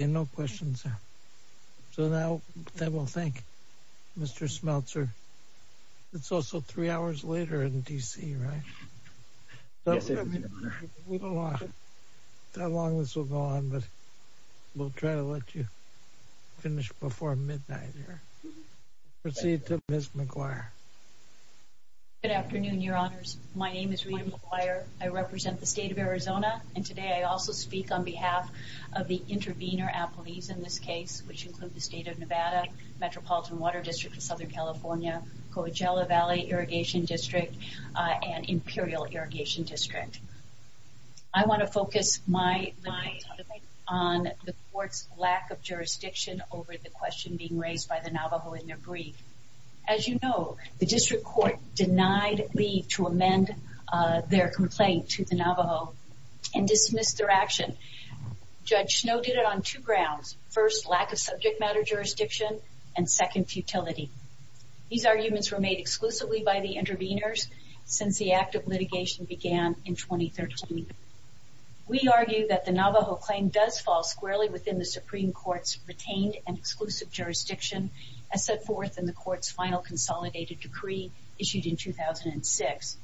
I have no questions. So now, then we'll thank Mr. Schmelzer. It's also three hours later in D.C., right? Yes, Your Honor. We don't know how long this will go on, but we'll try to let you finish before midnight here. Proceed to Ms. McGuire. Good afternoon, Your Honors. My name is Rita McGuire. I represent the state of Arizona, and today I also speak on behalf of the intervener athletes in this case, which includes the state of Nevada, Metropolitan Water District of Southern California, Coachella Valley Irrigation District, and Imperial Irrigation District. I want to focus my debate on the court's lack of jurisdiction over the question being raised by the Navajo in their brief. As you know, the district court denied Lee to amend their complaint to the Navajo and dismissed their action. Judge Snow did it on two grounds. First, lack of subject matter jurisdiction, and second, futility. These arguments were made exclusively by the interveners since the act of litigation began in 2013. We argue that the Navajo claim does fall squarely within the Supreme Court's retained and exclusive final consolidated decree issued in 2006.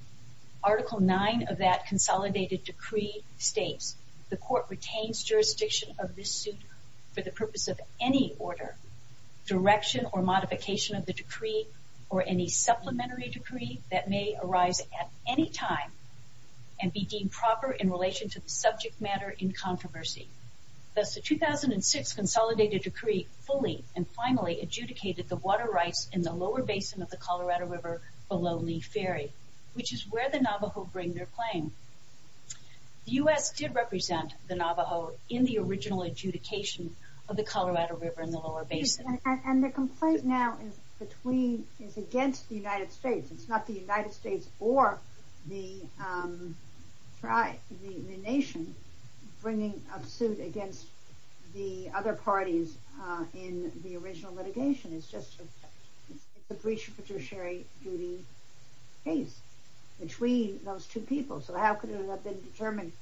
Article 9 of that consolidated decree states the court retains jurisdiction of this suit for the purpose of any order, direction, or modification of the decree, or any supplementary decree that may arise at any time and be deemed proper in relation to the subject matter in controversy. Thus, the 2006 consolidated decree fully and finally adjudicated the water rights in the lower basin of the Colorado River below Lee Ferry, which is where the Navajo bring their claim. The U.S. did represent the Navajo in the original adjudication of the Colorado River in the lower basin. And the complaint now is between, is against the United States. It's not the United States or the tribe, the nation, bringing a suit against the other parties in the original litigation. It's just a breach of judiciary duty case between those two people. So how could it have been determined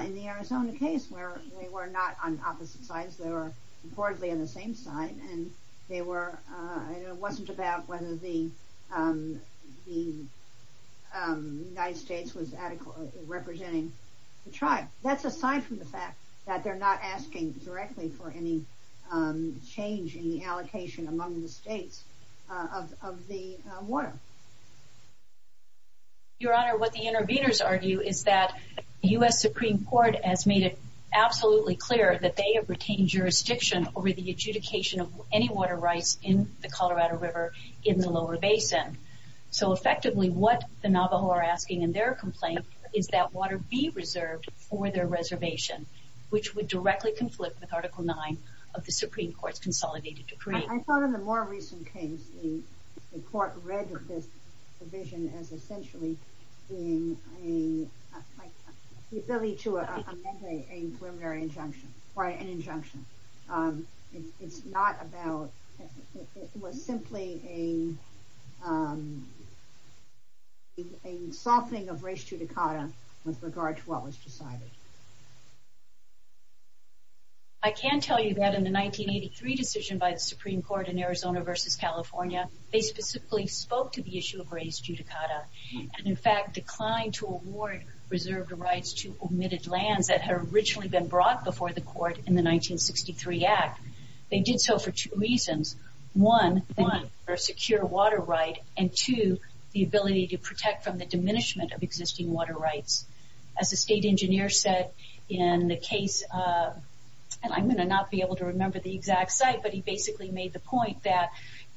in the Arizona case where they were not on opposite sides? They were reportedly on the same side. And it wasn't about whether the United States was adequately representing the tribe. That's aside from the fact that they're not asking directly for any change in the allocation among the states of the water. Your Honor, what the interveners argue is that the U.S. Supreme Court has made it absolutely clear that they have retained jurisdiction over the adjudication of any water rights in the Colorado River in the lower basin. So effectively what the Navajo are asking in their complaint is that water be reserved for their reservation, which would directly conflict with Article 9 of the Supreme Court's Consolidated Decree. I thought in the more recent case the court read this provision as essentially in a facility to amend a preliminary injunction or an injunction. It's not about, it was simply a softening of res judicata with regard to what was decided. I can tell you that in the 1983 decision by the Supreme Court in Arizona versus California, they specifically spoke to the issue of res judicata and in fact declined to award reserved rights to omitted land that had originally been brought before the court in the 1963 Act. They did so for two reasons. One, for a secure water right and two, the ability to protect from the diminishment of existing water rights. As the state engineer said in the case of, and I'm going to not be able to remember the exact site, but he basically made the point that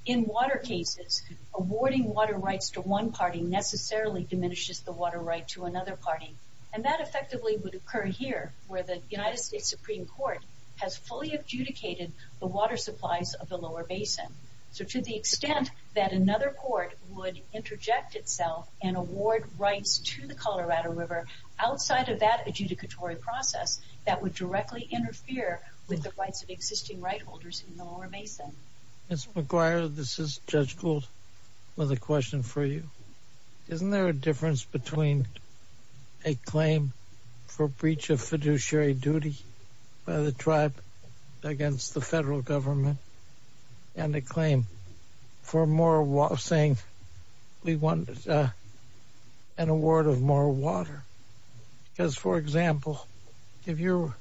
in water cases, awarding water rights to one party necessarily diminishes the water right to another party. And that effectively would occur here where the United States Supreme Court has fully adjudicated the water supplies of the lower basin. So to the extent that another court would interject itself and award rights to the Colorado River outside of that adjudicatory process, that would directly interfere with the rights of existing right holders in the lower basin. Mr. McGuire, this is Judge Gould with a question for you. Isn't there a difference between a claim for breach of fiduciary duty by the tribe against the federal government and a claim for moral saying we want an award of moral water? Because, for example, if you're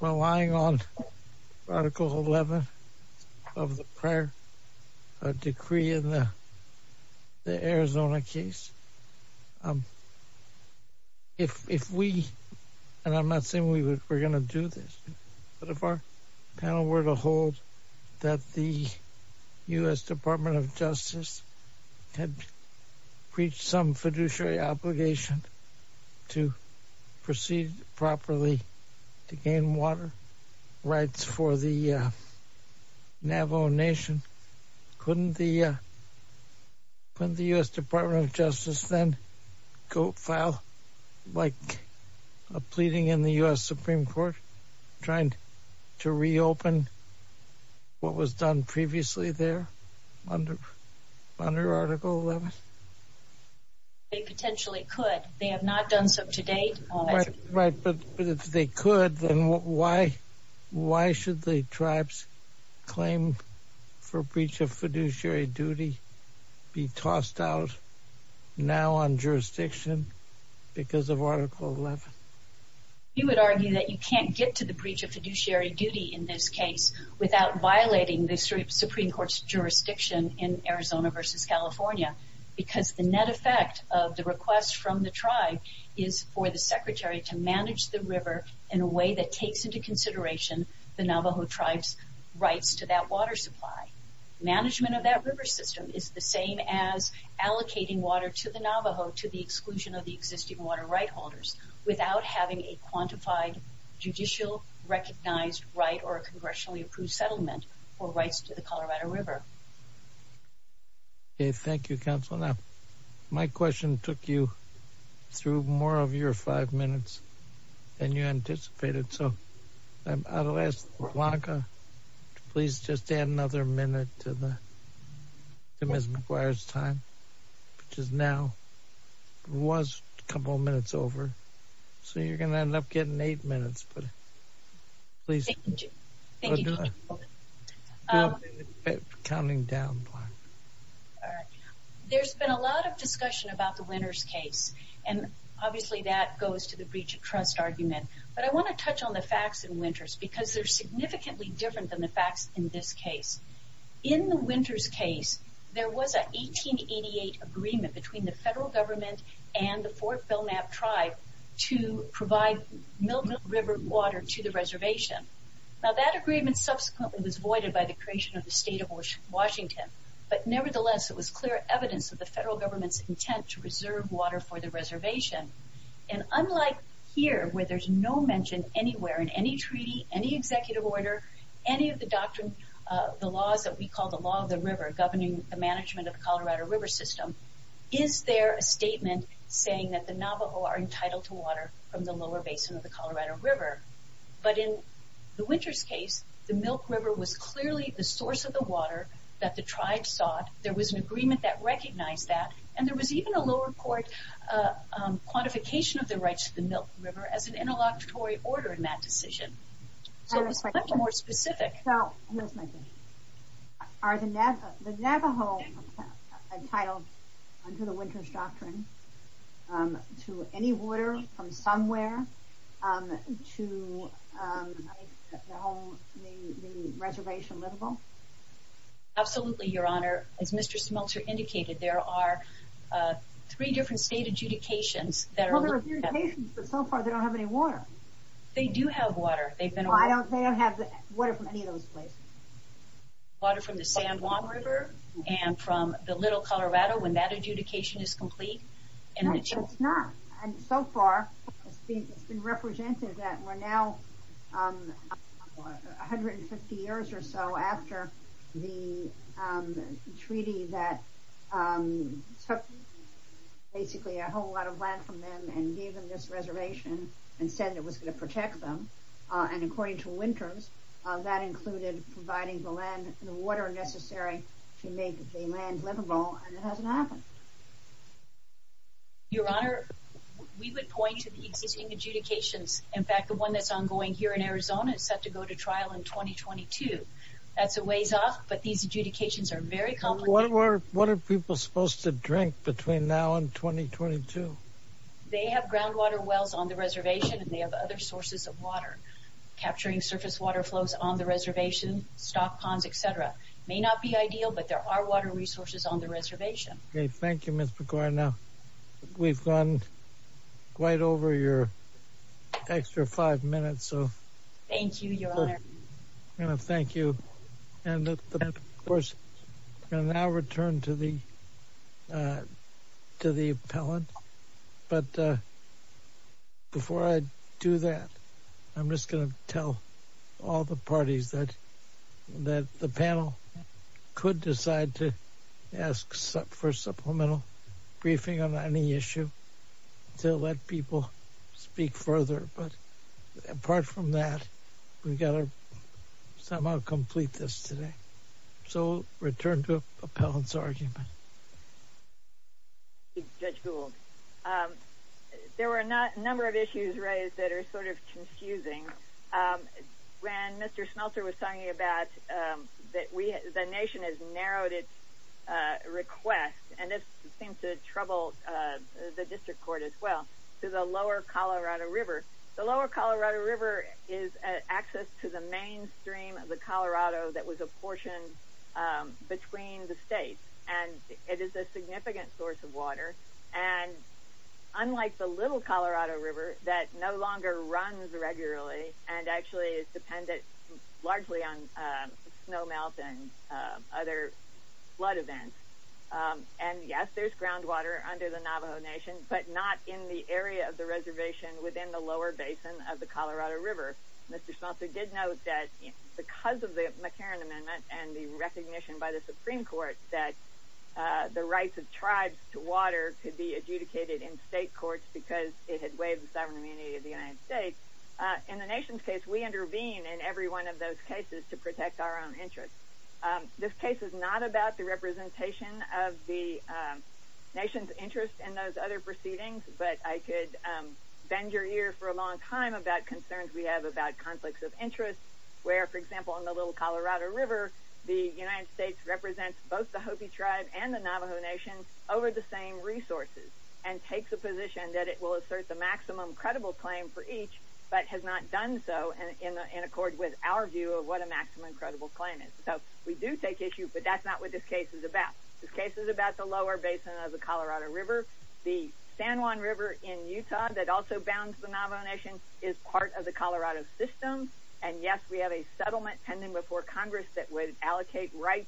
relying on Article 11 of the prior decree in the Arizona case, if we, and I'm not saying we're going to do this, but if our panel were to hold that the U.S. Department of Justice had breached some fiduciary obligation to proceed properly to gain water rights for the Navajo Nation, couldn't the U.S. Department of Justice then go file a pleading in the U.S. Supreme Court trying to reopen what was done previously there under Article 11? They potentially could. They have not done so to date. If they could, then why should the tribe's claim for breach of fiduciary duty be tossed out now on jurisdiction because of Article 11? You would argue that you can't get to the breach of fiduciary duty in this case without violating the Supreme Court's jurisdiction in Arizona versus California because the net effect of the request from the tribe is for the secretary to manage the river in a way that takes into consideration the Navajo tribe's rights to that water supply. Management of that river system is the same as allocating water to the Navajo to the exclusion of the existing water right holders without having a quantified judicial recognized right or a congressionally approved settlement for rights to the Colorado River. Okay. Thank you, Counselor. My question took you through more of your five minutes than you anticipated. I'm going to ask Veronica to please just add another minute to that. It requires time, which is now, was a couple of minutes over. So you're going to end up getting eight minutes. Please. Thank you. Counting down. All right. There's been a lot of discussion about the Winters case and obviously that goes to the breach of trust argument. But I want to touch on the facts in Winters because they're significantly different than the facts in this case. In the Winters case, there was an 1888 agreement between the federal government and the Fort Belknap tribe to provide no river water to the reservation. Now, that agreement subsequently was voided by the creation of the state of Washington. But nevertheless, it was clear evidence of the federal government's intent to reserve water for the reservation. And unlike here, where there's no mention anywhere in any treaty, any executive order, any of the doctrines, the laws that we call the law of the river governing the management of the Colorado River system, is there a statement saying that the Navajo are entitled to water from the lower basin of the Colorado River? But in the Winters case, the Milk River was clearly the source of the water that the tribe sought. There was an agreement that recognized that. And there was even a lower court quantification of the rights of the Milk River as an interlocutory order in that decision. So it's much more specific. So, here's my question. Are the Navajo entitled under the Winters doctrine to any water from somewhere to the reservation level? Absolutely, Your Honor. As Mr. Smeltzer indicated, there are three different state adjudications. Well, there are adjudications, but so far, they don't have any water. They do have water. I don't think they have water from any of those places. Water from the San Juan River, and from the Little Colorado, when that adjudication is complete. Well, it's not. And so far, it's been represented that we're now 150 years or so after the treaty that took basically a whole lot of land from them and gave them this reservation and said it was going to protect them. And according to Winters, that included providing the land and the water necessary to make the land livable. And it hasn't happened. Your Honor, we would point to the existing adjudications. In fact, the one that's ongoing here in Arizona is set to go to trial in 2022. That's a ways off, but these adjudications are very complicated. What are people supposed to drink between now and 2022? They have groundwater wells on the reservation, and they have other sources of water. Capturing surface water flows on the reservation, stock ponds, et cetera, may not be ideal, but there are water resources on the reservation. OK, thank you, Miss McGuire. Now, we've gone right over your extra five minutes. Thank you, Your Honor. Thank you. And of course, I now return to the to the appellant. But before I do that, I'm just going to tell all the parties that the panel could decide to ask for a supplemental briefing on any issue to let people speak further. But apart from that, we've got to somehow complete this today. So return to appellant's argument. Judge Gould, there were a number of issues raised that are sort of confusing. When Mr. Smeltzer was talking about that the nation has narrowed its request, and this seems to trouble the district court as well, to the lower Colorado River. The lower Colorado River is access to the mainstream of the Colorado that was apportioned between the states. And it is a significant source of water. And unlike the little Colorado River that no longer runs regularly and actually is dependent largely on snowmelt and other flood events. And yes, there's groundwater under the Navajo Nation, but not in the area of the reservation within the lower basin of the Colorado River. Mr. Smeltzer did note that because of the McCarran Amendment and the recognition by the Supreme Court that the rights of tribes to water could be adjudicated in state courts because it had waived the sovereign immunity of the United States. In the nation's case, we intervene in every one of those cases to protect our own interest. This case is not about the representation of the nation's interest in those other proceedings. But I could bend your ear for a long time about concerns we have about conflicts of interest between the Navajo Nation and the Hopi Tribe over the same resources. And take the position that it will assert the maximum credible claim for each, but has not done so in accord with our view of what a maximum credible claim is. So we do take issue, but that's not what this case is about. This case is about the lower basin of the Colorado River. The San Juan River in Utah that also bounds the Navajo Nation is part of the Colorado system. And yes, we have a settlement pending before Congress that would allocate rights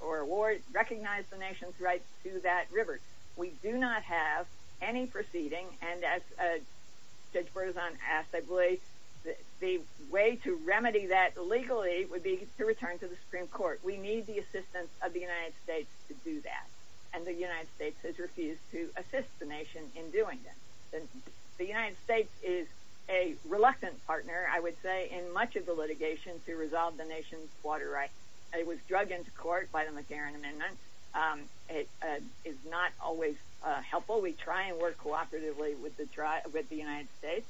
or award – recognize the nation's rights to that river. We do not have any proceeding. And as Judge Bergeson asked, I believe the way to remedy that legally would be to return to the Supreme Court. We need the assistance of the United States to do that. And the United States has refused to assist the nation in doing that. The United States is a reluctant partner, I would say, in much of the litigation to resolve the nation's water rights. It was drug into court by the McCarran Amendment. It is not always helpful. We try and work cooperatively with the United States.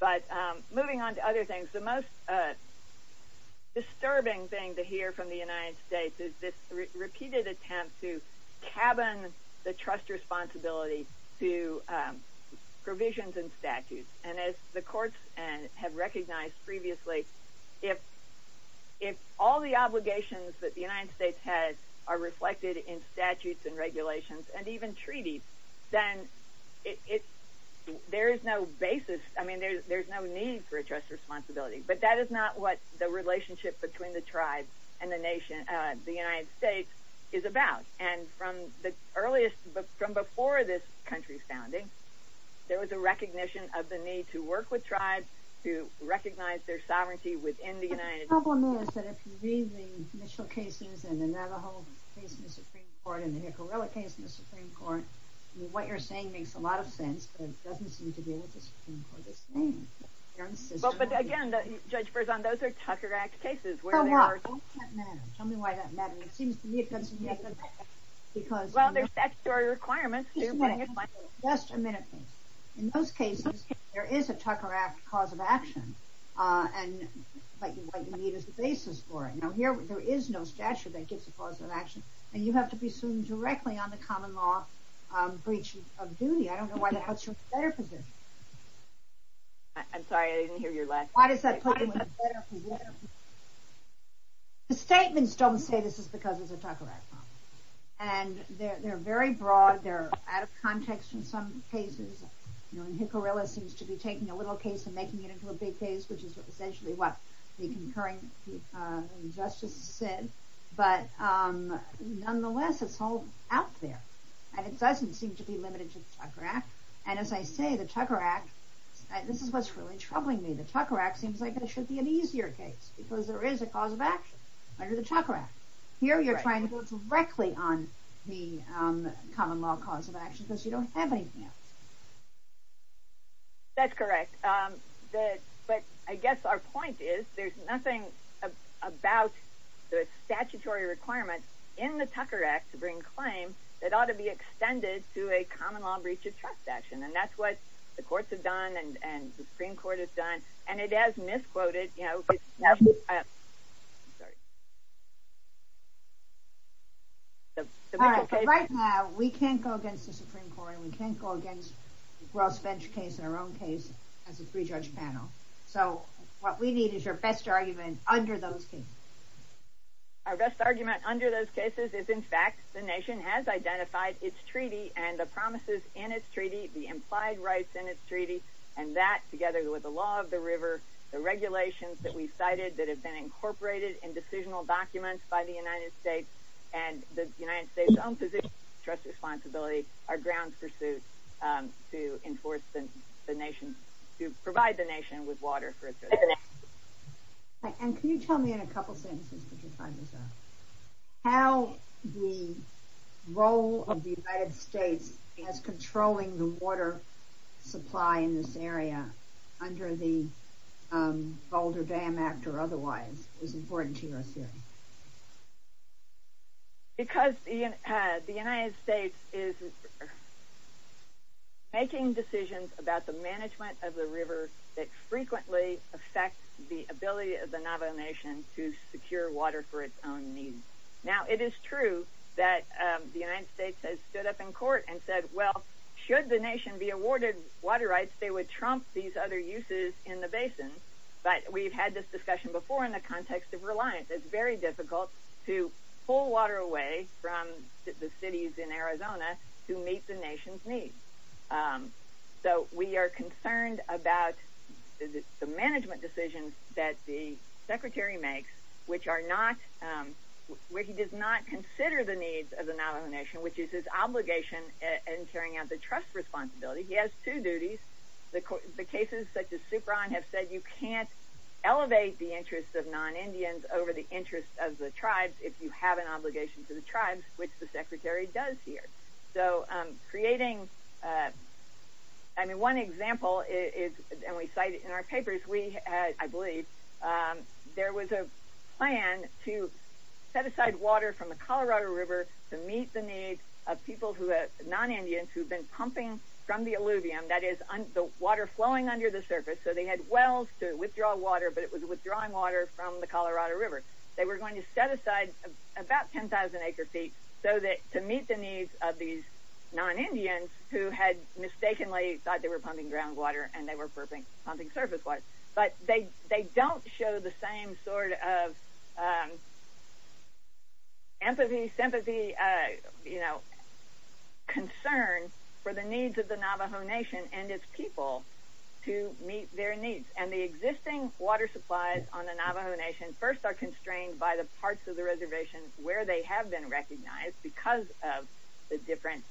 But moving on to other things, the most disturbing thing to hear from the United States is this provisions and statutes. And as the courts have recognized previously, if all the obligations that the United States has are reflected in statutes and regulations and even treaties, then it – there is no basis – I mean, there's no need for a just responsibility. But that is not what the relationship between the tribe and the nation – the United States is about. And from the earliest – from before this country's founding, there was a recognition of the need to work with tribes to recognize their sovereignty within the United States. MS. HARDINGTON. The problem is that if we read the initial cases and the Navajo case in the Supreme Court and the Nicarilla case in the Supreme Court, what you're saying makes a lot of sense, but it doesn't seem to be what the Supreme Court is saying. MS. HARDINGTON. Well, but again, Judge Berzon, those are Tucker Act cases where they are – MS. HARDINGTON. Tell me why that matters. It seems to me it doesn't make a – because – HARDINGTON. Well, there's statutory requirements. MS. HARDINGTON. Just a minute. In those cases, there is a Tucker Act cause of action, and what you need is a basis for it. Now, here, there is no statute that gives a cause of action, and you have to be sued directly on the common law breach of duty. I don't know why the hell you're better for this. MS. HARDINGTON. I'm sorry, I didn't hear your last – MS. Why does that put you in a better position? The statements don't say this is because of the Tucker Act, and they're very broad. They're out of context in some cases. You know, Hickorilla seems to be taking a little case and making it into a big case, which is essentially what the concurrent justice said, but nonetheless, it's all out there, and it doesn't seem to be limited to the Tucker Act, and as I say, the Tucker Act – this is what's really troubling me. The Tucker Act seems like it should be an easier case because there is a cause of action under the Tucker Act. Here, you're trying to go directly on the common law cause of action because you don't have anything else. MS. HARDINGTON. That's correct, but I guess our point is there's nothing about the statutory requirement in the Tucker Act to bring claim that ought to be extended to a common law breach of trust action, and that's what the courts have done and the Supreme Court has done, and it has misquoted – you know, it's – I'm sorry. The legal case – MS. HARDINGTON. Right now, we can't go against the Supreme Court. We can't go against the gross bench case in our own case as a three-judge panel, so what we need is our best argument under those cases. HARDINGTON. Our best argument under those cases is, in fact, the nation has identified its treaty and the promises in its treaty, the implied rights in its treaty, and that, together with the law of the river, the regulations that we cited that have been incorporated in decisional documents by the United States and the United States' own position of trust responsibility, are grounds for suit to enforce the nation – to provide the nation with water for its purposes. MS. HARDINGTON. But why is the United States controlling the water supply in this area under the Boulder Dam Act or otherwise? It's important to know, too. MS. HARDINGTON. Because the United States is making decisions about the management of the river that frequently affect the ability of the Navajo Nation to secure water for its own needs. Now, it is true that the United States has stood up in court and said, well, should the nation be awarded water rights, they would trump these other uses in the basin. But we've had this discussion before in the context of reliance. It's very difficult to pull water away from the cities in Arizona to meet the nation's needs. So we are concerned about the management decisions that the Secretary makes, which are not – where he does not consider the needs of the Navajo Nation, which is his obligation in carrying out the trust responsibility. He has two duties. The cases such as Supron have said you can't elevate the interests of non-Indians over the interests of the tribes if you have an obligation for the tribes, which the Secretary does here. So creating – I mean, one example is – and we cite it in our papers – we had, I believe, there was a plan to set aside water from the Colorado River to meet the needs of people who have – non-Indians who have been pumping from the alluvium, that is, the water flowing under the surface. So they had wells to withdraw water, but it was withdrawing water from the Colorado River. They were going to set aside about 10,000 acre-feet so that – to meet the needs of these non-Indians who had mistakenly thought they were pumping groundwater and they were pumping surface water. But they don't show the same sort of empathy, sympathy, concern for the needs of the Navajo Nation and its people to meet their needs. And the existing water supplies on the Navajo Nation first are constrained by the parts of the reservations where they have been recognized because of the different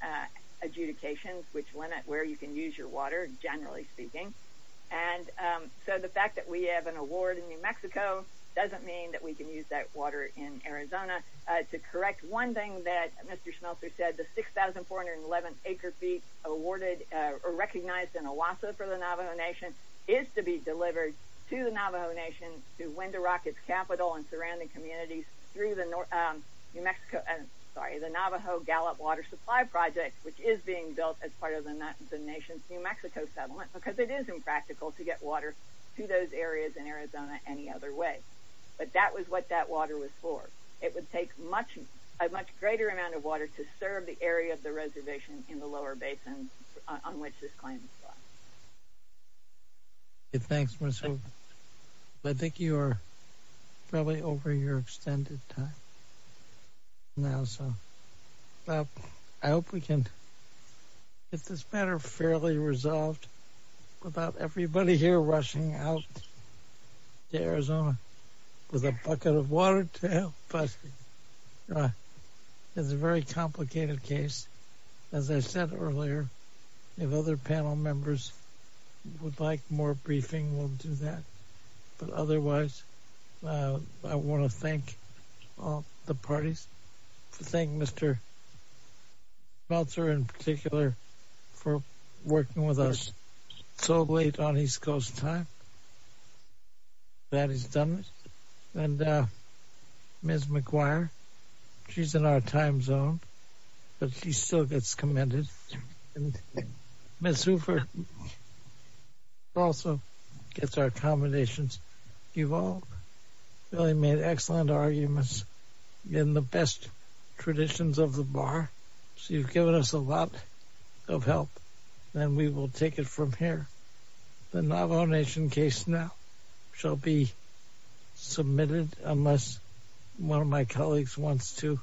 adjudications which limit where you can use your water, generally speaking. And so the fact that we have an award in New Mexico doesn't mean that we can use that water in Arizona. To correct one thing that Mr. Schmeltzer said, the 6,411 acre-feet awarded – or recognized in OASA for the Navajo Nation is to be delivered to the Navajo Nation through Wendorock, its capital, and surrounding communities through the New Mexico – sorry, the Navajo Gallup Water Supply Project, which is being built as part of the nation's New Mexico settlement because it is impractical to get water to those areas in Arizona any other way. But that was what that water was for. It would take much – a much greater amount of water to serve the area of the reservation in the lower basin on which this claim is set. SCHMELTZER I think you are fairly over your extended time now, so I hope we can get this matter fairly resolved without everybody here rushing out to Arizona with a bucket of water to help us. It's a very complicated case. As I said earlier, if other panel members would like more briefing, we'll do that. But otherwise, I want to thank all the parties. I thank Mr. Schmeltzer in particular for working with us so late on his closed time. That is done. And Ms. McGuire, she's in our time zone, but she still gets commended. And Ms. Hooper also gets our commendations. You've all really made excellent arguments in the best traditions of the bar. She's given us a lot of help, and we will take it from here. The Navajo Nation case now shall be submitted unless one of my colleagues wants to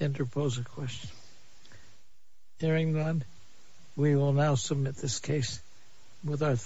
interpose a question. Hearing none, we will now submit this case with our thanks.